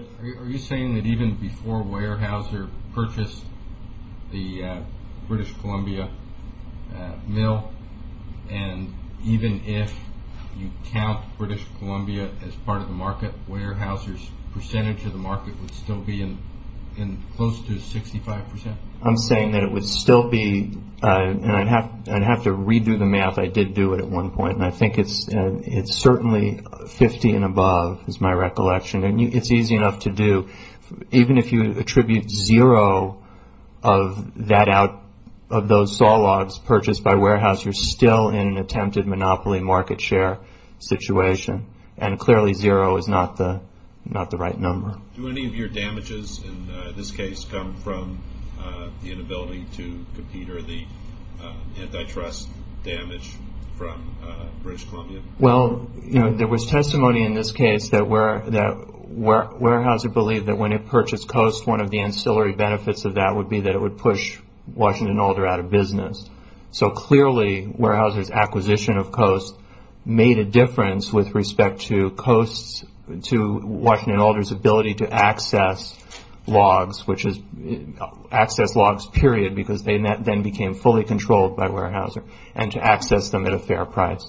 you saying that even before Weyerhaeuser purchased the British Columbia Mill, and even if you count British Columbia as part of the market, Weyerhaeuser's percentage of the market would still be in close to 65 percent? I'm saying that it would still be, and I'd have to redo the math. I did do it at one point, and I think it's certainly 50 and above is my recollection. It's easy enough to do. Even if you attribute zero of those saw logs purchased by Weyerhaeuser, you're still in an attempted monopoly market share situation, and clearly zero is not the right number. Do any of your damages in this case come from the inability to compete or the antitrust damage from British Columbia? Well, there was testimony in this case that Weyerhaeuser believed that when it purchased Coast, one of the ancillary benefits of that would be that it would push Washington and Alder out of business. So clearly, Weyerhaeuser's acquisition of Coast made a difference with respect to Washington and Alder's ability to access logs, which is access logs, period, because they then became fully controlled by Weyerhaeuser and to access them at a fair price.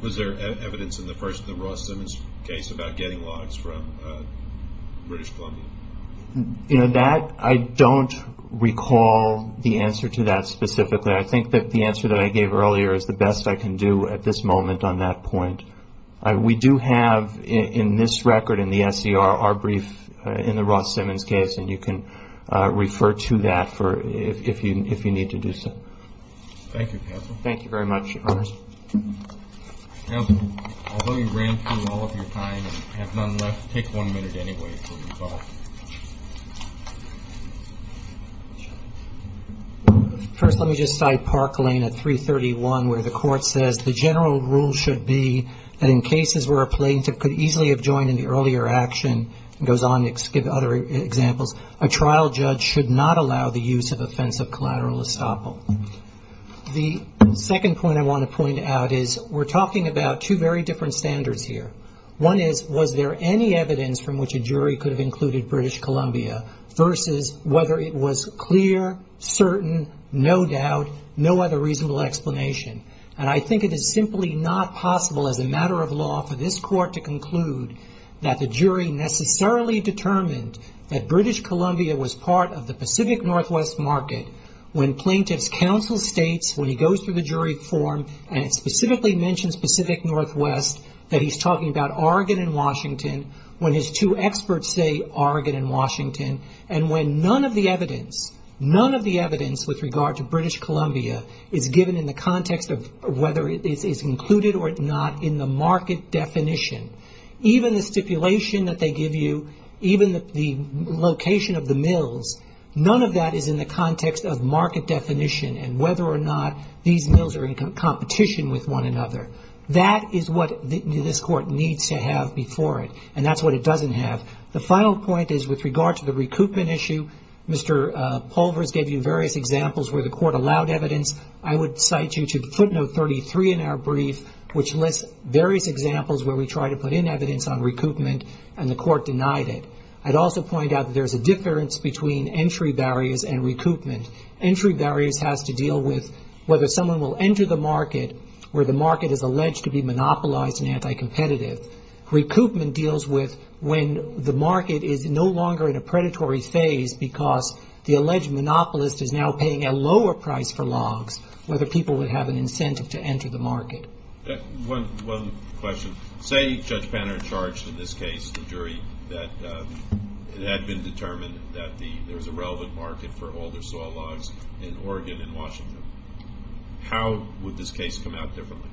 Was there evidence in the Ross Simmons case about getting logs from British Columbia? I don't recall the answer to that specifically. I think that the answer that I gave earlier is the best I can do at this moment on that point. We do have in this record in the SER our brief in the Ross Simmons case, and you can refer to that if you need to do so. Thank you, counsel. Thank you very much, Your Honor. Counsel, although you ran through all of your time and have none left, take one minute anyway before you call. First, let me just cite Park Lane at 331, where the court says the general rule should be that in cases where a plaintiff could easily have joined in the earlier action, and goes on to give other examples, a trial judge should not allow the use of offensive collateral estoppel. The second point I want to point out is we're talking about two very different standards here. One is, was there any evidence from which a jury could have included British Columbia versus whether it was clear, certain, no doubt, no other reasonable explanation. And I think it is simply not possible as a matter of law for this court to conclude that the jury necessarily determined that British Columbia was part of the Pacific Northwest market when plaintiff's counsel states when he goes through the jury form and specifically mentions Pacific Northwest, that he's talking about Oregon and Washington, when his two experts say Oregon and Washington, and when none of the evidence, none of the evidence with regard to British Columbia is given in the context of whether it is included or not in the market definition. Even the stipulation that they give you, even the location of the mills, none of that is in the context of market definition and whether or not these mills are in competition with one another. That is what this court needs to have before it, and that's what it doesn't have. The final point is with regard to the recoupment issue, Mr. Pulvers gave you various examples where the court allowed evidence. I would cite you to footnote 33 in our brief, which lists various examples where we try to put in evidence on recoupment and the court denied it. I'd also point out that there's a difference between entry barriers and recoupment. Entry barriers has to deal with whether someone will enter the market where the market is alleged to be monopolized and anti-competitive. Recoupment deals with when the market is no longer in a predatory phase because the alleged monopolist is now paying a lower price for logs, whether people would have an incentive to enter the market. One question. Say Judge Panner charged in this case, the jury, that it had been determined that there was a relevant market for all their soil logs in Oregon and Washington. How would this case come out differently?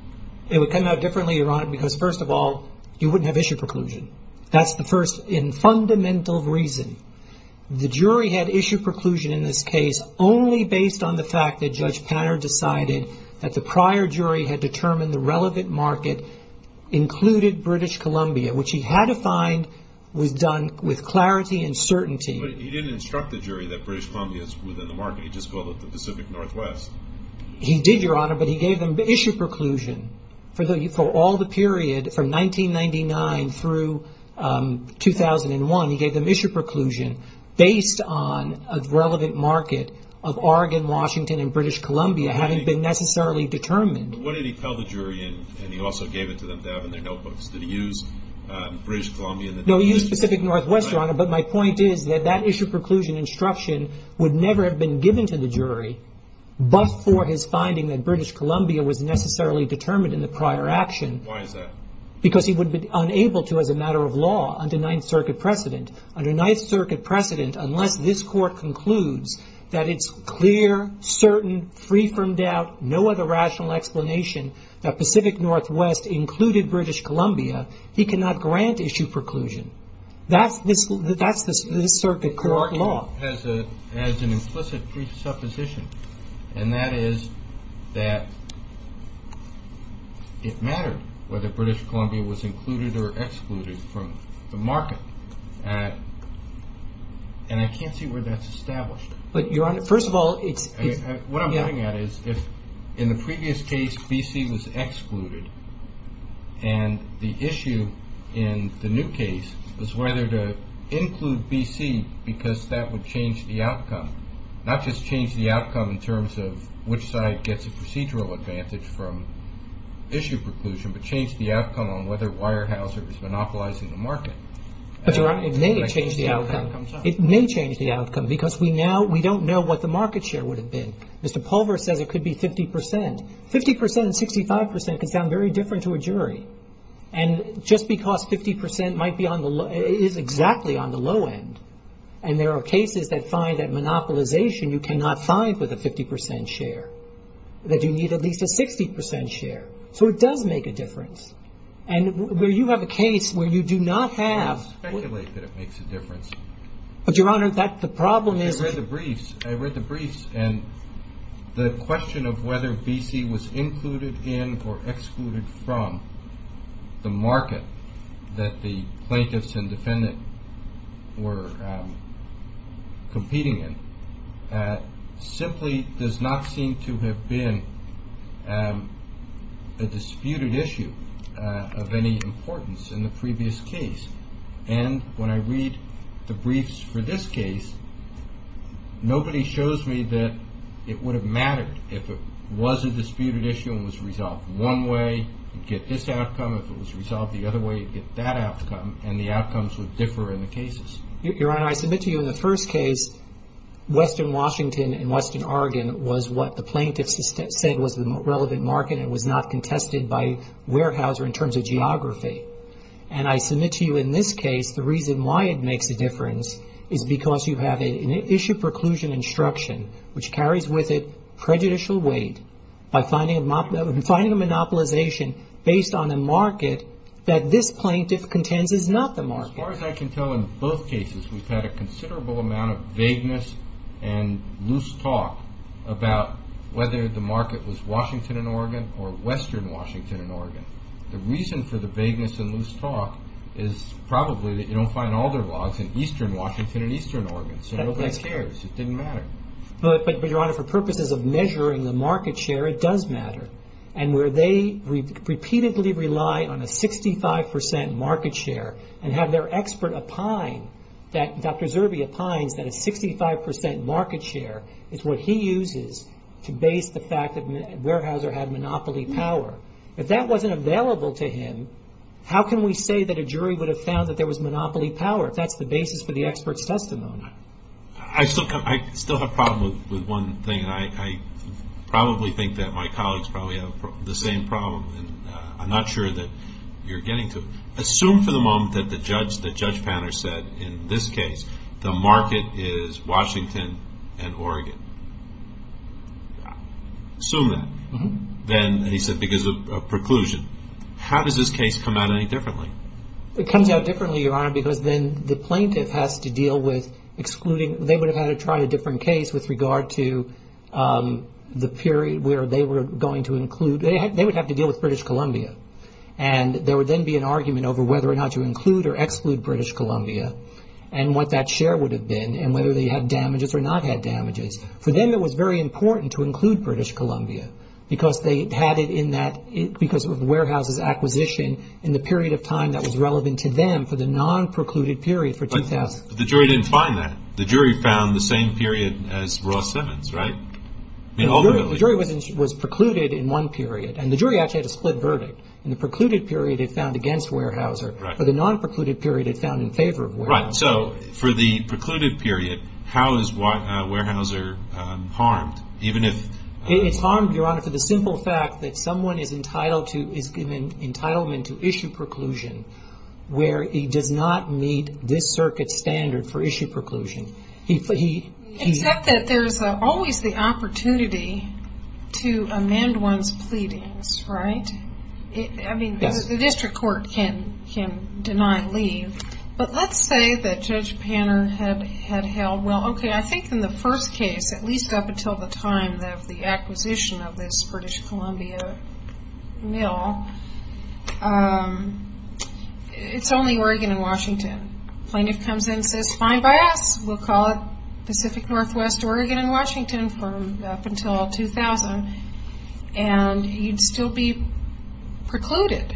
It would come out differently, Your Honor, because first of all, you wouldn't have issued preclusion. That's the first and fundamental reason. The jury had issued preclusion in this case only based on the fact that Judge Panner decided that the prior jury had determined the relevant market included British Columbia, which he had to find was done with clarity and certainty. But he didn't instruct the jury that British Columbia is within the market. He just called it the Pacific Northwest. He did, Your Honor, but he gave them issue preclusion for all the period from 1999 through 2001. He gave them issue preclusion based on a relevant market of Oregon, Washington, and British Columbia having been necessarily determined. What did he tell the jury in, and he also gave it to them to have in their notebooks? Did he use British Columbia? No, he used Pacific Northwest, Your Honor, but my point is that that issue preclusion instruction would never have been given to the jury but for his finding that British Columbia was necessarily determined in the prior action. Why is that? Because he would have been unable to as a matter of law under Ninth Circuit precedent. Under Ninth Circuit precedent, unless this Court concludes that it's clear, certain, free from doubt, no other rational explanation that Pacific Northwest included British Columbia, he cannot grant issue preclusion. That's the circuit court law. As an implicit presupposition, and that is that it mattered whether British Columbia was included or excluded from the market, and I can't see where that's established. But, Your Honor, first of all, it's... What I'm looking at is if, in the previous case, B.C. was excluded and the issue in the new case was whether to include B.C. because that would change the outcome, not just change the outcome in terms of which side gets a procedural advantage from issue preclusion, but change the outcome on whether Weyerhaeuser is monopolizing the market. But, Your Honor, it may change the outcome. It may change the outcome because we don't know what the market share would have been. Mr. Pulver says it could be 50 percent. 50 percent and 65 percent can sound very different to a jury. And just because 50 percent is exactly on the low end, and there are cases that find that monopolization you cannot find with a 50 percent share, that you need at least a 60 percent share, so it does make a difference. And where you have a case where you do not have... But, Your Honor, the problem is... I read the briefs, and the question of whether B.C. was included in or excluded from the market that the plaintiffs and defendant were competing in simply does not seem to have been a disputed issue of any importance in the previous case. And when I read the briefs for this case, nobody shows me that it would have mattered if it was a disputed issue and the outcome was resolved one way, you'd get this outcome. If it was resolved the other way, you'd get that outcome, and the outcomes would differ in the cases. Your Honor, I submit to you in the first case, Western Washington and Western Oregon was what the plaintiffs said was the relevant market and was not contested by Weyerhaeuser in terms of geography. And I submit to you in this case the reason why it makes a difference is because you have an issue preclusion instruction which carries with it prejudicial weight by finding a monopolization based on a market that this plaintiff contends is not the market. As far as I can tell, in both cases we've had a considerable amount of vagueness and loose talk about whether the market was Washington and Oregon or Western Washington and Oregon. The reason for the vagueness and loose talk is probably that you don't find all their blogs in Eastern Washington and Eastern Oregon, so nobody cares. It didn't matter. But, Your Honor, for purposes of measuring the market share, it does matter. And where they repeatedly rely on a 65 percent market share and have their expert opine that Dr. Zerbe opines that a 65 percent market share is what he uses to base the fact that Weyerhaeuser had monopoly power. If that wasn't available to him, how can we say that a jury would have found that there was monopoly power? If that's the basis for the expert's testimony. I still have a problem with one thing, and I probably think that my colleagues probably have the same problem. I'm not sure that you're getting to it. Assume for the moment that Judge Panner said in this case the market is Washington and Oregon. Assume that. Then he said because of preclusion. How does this case come out any differently? It comes out differently, Your Honor, because then the plaintiff has to deal with excluding. They would have had to try a different case with regard to the period where they were going to include. They would have to deal with British Columbia. And there would then be an argument over whether or not to include or exclude British Columbia and what that share would have been and whether they had damages or not had damages. For them it was very important to include British Columbia because they had it in that, because of Weyerhaeuser's acquisition in the period of time that was relevant to them for the non-precluded period for 2000. But the jury didn't find that. The jury found the same period as Ross Simmons, right? The jury was precluded in one period, and the jury actually had a split verdict. In the precluded period it found against Weyerhaeuser. For the non-precluded period it found in favor of Weyerhaeuser. So for the precluded period, how is Weyerhaeuser harmed? It's harmed, Your Honor, for the simple fact that someone is entitled to, is given entitlement to issue preclusion where he does not meet this circuit's standard for issue preclusion. Except that there's always the opportunity to amend one's pleadings, right? I mean, the district court can deny leave. But let's say that Judge Panner had held, well, okay, I think in the first case, at least up until the time of the acquisition of this British Columbia mill, it's only Oregon and Washington. Plaintiff comes in and says, fine by us, we'll call it Pacific Northwest Oregon and Washington up until 2000, and he'd still be precluded.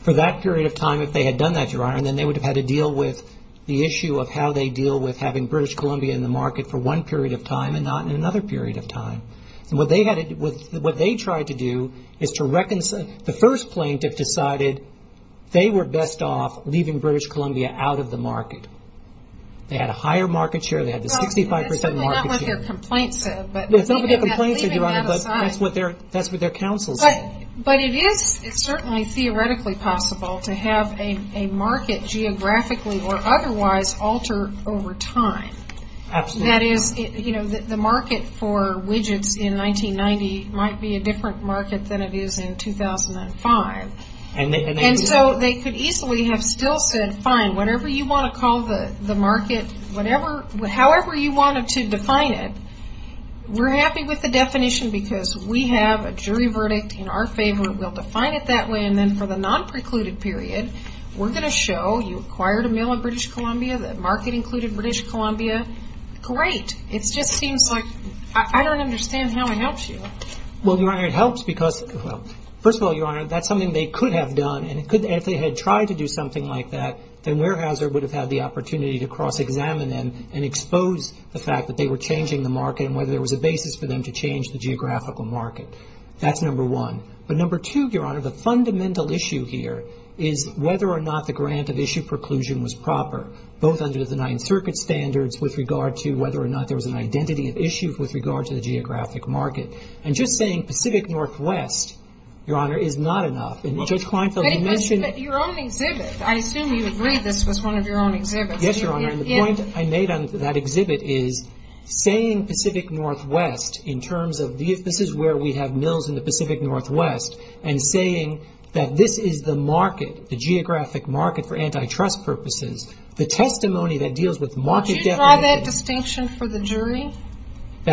For that period of time, if they had done that, Your Honor, then they would have had to deal with the issue of how they deal with having British Columbia in the market for one period of time and not in another period of time. What they tried to do is to reconcile. The first plaintiff decided they were best off leaving British Columbia out of the market. They had a higher market share. It's certainly not what their complaint said. That's what their counsel said. But it is certainly theoretically possible to have a market geographically or otherwise alter over time. That is, the market for widgets in 1990 might be a different market than it is in 2005. And so they could easily have still said, fine, whatever you want to call the market, however you wanted to define it. We're happy with the definition because we have a jury verdict in our favor. We'll define it that way, and then for the non-precluded period, we're going to show you acquired a mill in British Columbia, the market included British Columbia. Great. It just seems like I don't understand how it helps you. Well, Your Honor, it helps because, well, first of all, Your Honor, that's something they could have done, and if they had tried to do something like that, then Weyerhaeuser would have had the opportunity to cross-examine them and expose the fact that they were changing the market and whether there was a basis for them to change the geographical market. That's number one. But number two, Your Honor, the fundamental issue here is whether or not the grant of issue preclusion was proper, both under the Ninth Circuit standards with regard to whether or not there was an identity of issue with regard to the geographic market. And just saying Pacific Northwest, Your Honor, is not enough. Judge Kleinfeld, you mentioned... Your own exhibit. I assume you agreed this was one of your own exhibits. Yes, Your Honor, and the point I made on that exhibit is saying Pacific Northwest in terms of this is where we have mills in the Pacific Northwest, and saying that this is the market, the geographic market for antitrust purposes. The testimony that deals with market definition... Would you try that distinction for the jury in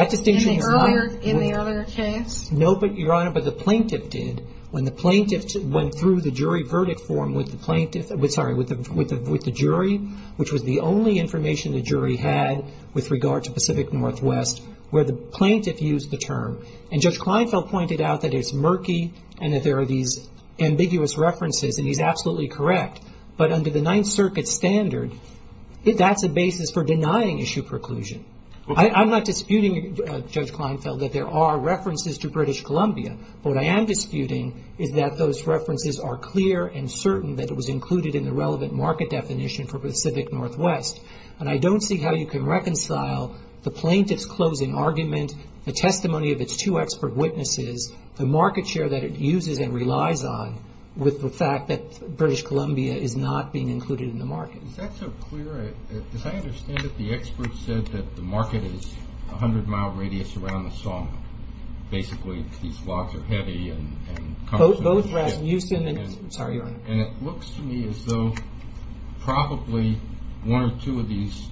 the earlier case? No, Your Honor, but the plaintiff did. When the plaintiff went through the jury verdict form with the jury, which was the only information the jury had with regard to Pacific Northwest, where the plaintiff used the term, and Judge Kleinfeld pointed out that it's murky and that there are these ambiguous references, and he's absolutely correct, but under the Ninth Circuit standard, that's a basis for denying issue preclusion. I'm not disputing, Judge Kleinfeld, that there are references to British Columbia, but what I am disputing is that those references are clear and certain that it was included in the relevant market definition for Pacific Northwest. I don't see how you can reconcile the plaintiff's closing argument, the testimony of its two expert witnesses, the market share that it uses and relies on with the fact that British Columbia is not being included in the market. Is that so clear? As I understand it, the expert said that the market is 100 mile radius around the song. Basically, these logs are heavy. And it looks to me as though probably one or two of these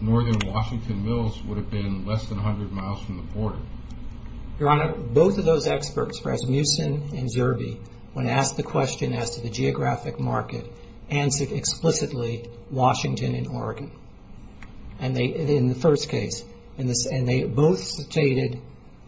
northern Washington mills would have been less than 100 miles from the border. Your Honor, both of those experts, Rasmussen and Zerbe, when asked the question as to the geographic market, answered explicitly Washington and Oregon in the first case. And they both stated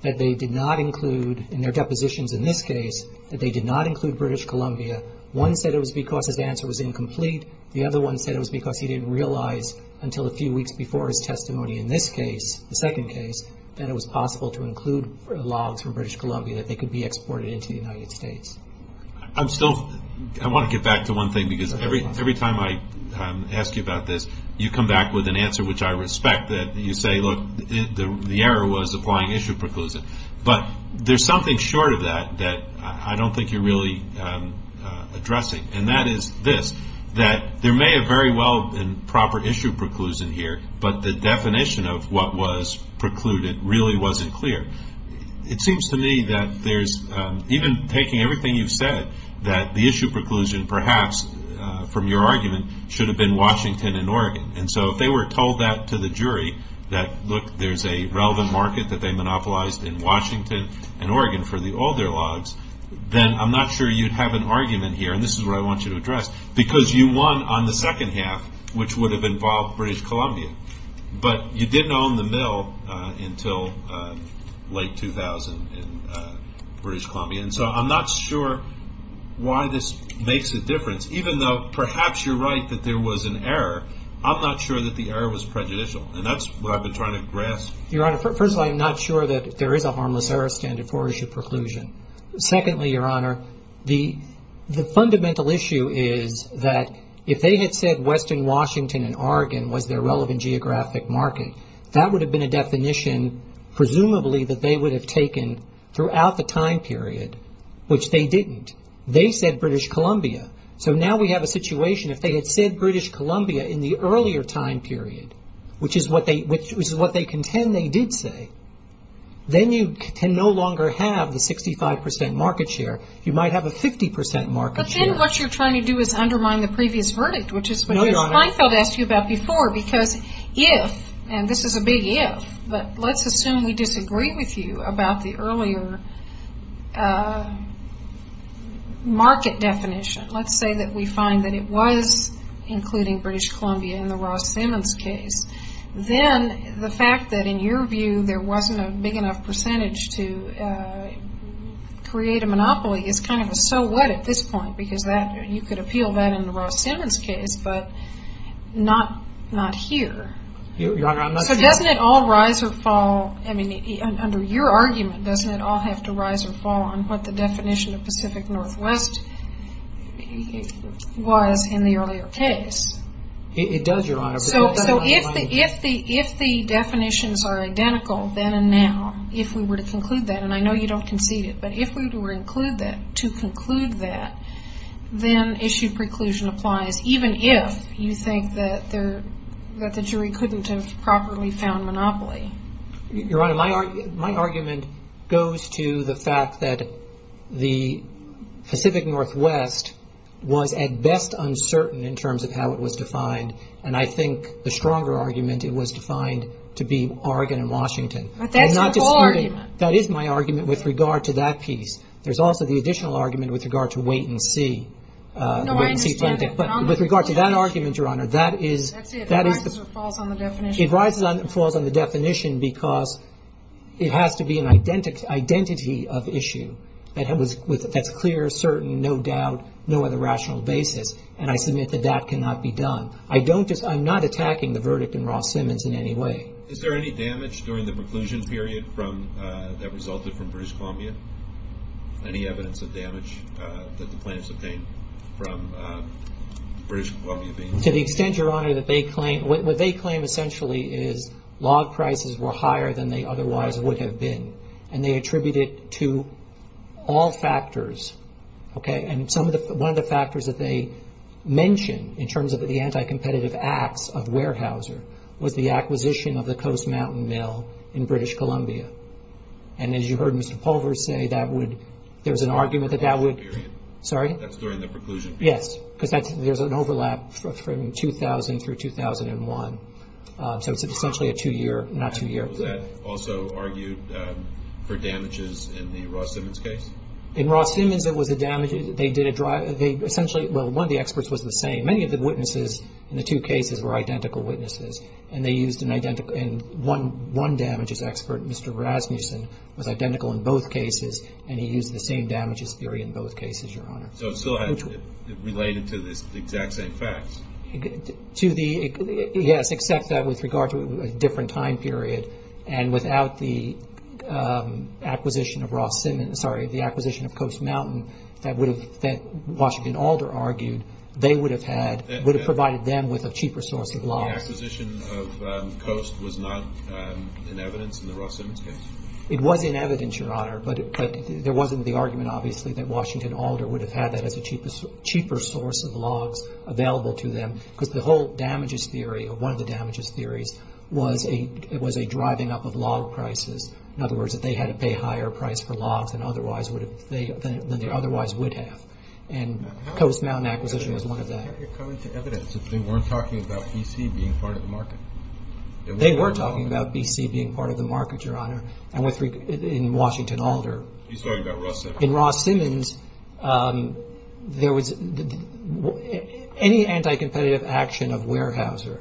that they did not include, in their depositions in this case, that they did not include British Columbia. One said it was because his answer was incomplete. The other one said it was because he didn't realize until a few weeks before his testimony in this case, the second case, that it was possible to include logs from British Columbia that they could be exported into the United States. I want to get back to one thing, because every time I ask you about this, you come back with an answer which I respect, that you say, look, the error was applying issue preclusion. But there's something short of that that I don't think you're really addressing. And that is this, that there may have very well been proper issue preclusion here, but the definition of what was precluded really wasn't clear. It seems to me that there's, even taking everything you've said, that the issue preclusion perhaps from your argument should have been Washington and Oregon. And so if they were told that to the jury, that look, there's a relevant market that they monopolized in Washington and Oregon for the older logs, then I'm not sure you'd have an argument here, and this is what I want you to address, because you won on the second half, which would have involved British Columbia. But you didn't own the mill until late 2000 in British Columbia. And so I'm not sure why this makes a difference. Even though perhaps you're right that there was an error, I'm not sure that the error was prejudicial. And that's what I've been trying to grasp. Your Honor, first of all, I'm not sure that there is a harmless error standard for issue preclusion. Secondly, Your Honor, the fundamental issue is that if they had said Western Washington and Oregon was their relevant geographic market, that would have been a definition presumably that they would have taken throughout the time period, which they didn't. They said British Columbia. So now we have a situation, if they had said British Columbia in the earlier time period, which is what they contend they did say, then you can no longer have the 65 percent market share. You might have a 50 percent market share. But then what you're trying to do is undermine the previous verdict, which is what Ms. Feinfeld asked you about before, because if, and this is a big if, but let's assume we disagree with you about the earlier market definition. Let's say that we find that it was including British Columbia in the Ross-Simmons case. Then the fact that in your view there wasn't a big enough percentage to create a monopoly is kind of a so what at this point, because you could appeal that in the Ross-Simmons case, but not here. So doesn't it all rise or fall, I mean, under your argument, doesn't it all have to rise or fall on what the definition of Pacific Northwest was in the earlier case? It does, Your Honor. So if the definitions are identical then and now, if we were to conclude that, and I know you don't concede it, but if we were to conclude that, then issue preclusion applies, even if you think that the jury couldn't have properly found monopoly. Your Honor, my argument goes to the fact that the Pacific Northwest was at best uncertain in terms of how it was defined, and I think the stronger argument, it was defined to be Oregon and Washington. That is my argument with regard to that piece. There's also the additional argument with regard to wait and see. With regard to that argument, Your Honor, that is... It rises or falls on the definition. It rises or falls on the definition because it has to be an identity of issue that's clear, certain, no doubt, no other rational basis, and I submit that that cannot be done. I'm not attacking the verdict in Ross-Simmons in any way. Is there any damage during the preclusion period that resulted from British Columbia? Any evidence of damage that the plaintiffs obtained from British Columbia? To the extent, Your Honor, that they claim... What they claim essentially is log prices were higher than they otherwise would have been, and they attribute it to all factors. One of the factors that they mention in terms of the anti-competitive acts of Weyerhaeuser was the acquisition of the Coast Mountain Mill in British Columbia, and as you heard Mr. Pulver say, there's an argument that that would... That's during the preclusion period? Yes, because there's an overlap from 2000 through 2001, so it's essentially a two-year... Was that also argued for damages in the Ross-Simmons case? In Ross-Simmons, it was a damage... Well, one of the experts was the same. Many of the witnesses in the two cases were identical witnesses, and one damages expert, Mr. Rasmussen, was identical in both cases, and he used the same damages theory in both cases, Your Honor. So it's still related to the exact same facts? Yes, except that with regard to a different time period, and without the acquisition of Ross-Simmons... Sorry, the acquisition of Coast Mountain that Washington Alder argued would have provided them with a cheaper source of logs. The acquisition of Coast was not in evidence in the Ross-Simmons case? It was in evidence, Your Honor, but there wasn't the argument, obviously, that Washington Alder would have had that as a cheaper source of logs available to them, because the whole damages theory, or one of the damages theories, was a driving up of log prices. In other words, that they had to pay a higher price for logs than they otherwise would have. And Coast Mountain acquisition was one of that. How could it come into evidence if they weren't talking about B.C. being part of the market? They were talking about B.C. being part of the market, Your Honor, in Washington Alder. He's talking about Ross-Simmons. In Ross-Simmons, any anti-competitive action of Weyerhaeuser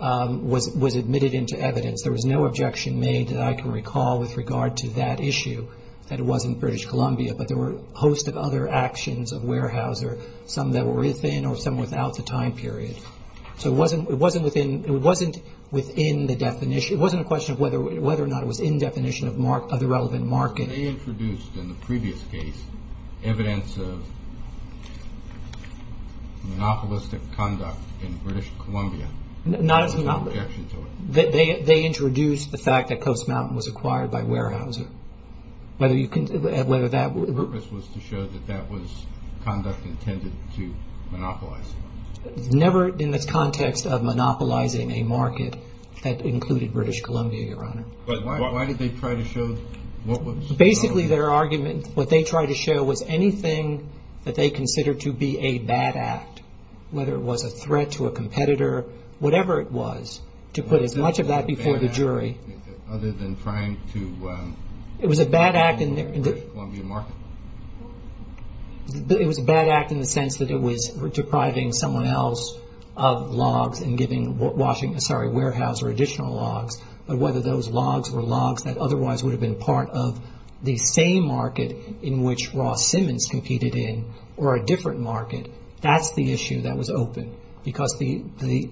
was admitted into evidence. There was no objection made that I can recall with regard to that issue, that it wasn't British Columbia, but there were a host of other actions of Weyerhaeuser, some that were within or some without the time period. So it wasn't within the definition. It wasn't a question of whether or not it was in definition of the relevant market. They introduced, in the previous case, evidence of monopolistic conduct in British Columbia. There was no objection to it. They introduced the fact that Coast Mountain was acquired by Weyerhaeuser. The purpose was to show that that was conduct intended to monopolize. Never in the context of monopolizing a market that included British Columbia, Your Honor. But why did they try to show? Basically, their argument, what they tried to show was anything that they considered to be a bad act, whether it was a threat to a competitor, whatever it was, to put as much of that before the jury. Was it a bad act other than trying to monopolize the British Columbia market? It was a bad act in the sense that it was depriving someone else of logs and giving Weyerhaeuser additional logs, but whether those logs were logs that otherwise would have been part of the same market in which Ross Simmons competed in or a different market, that's the issue that was open. Because the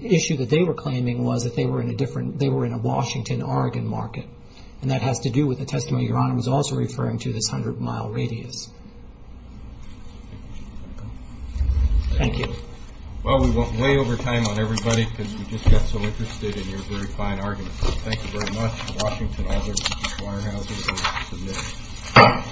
issue that they were claiming was that they were in a Washington-Oregon market, and that has to do with the testimony Your Honor was also referring to, this hundred-mile radius. Thank you. Well, we went way over time on everybody because we just got so interested in your very fine argument. Thank you very much. Washington, all those in favor of Weyerhaeuser, please submit.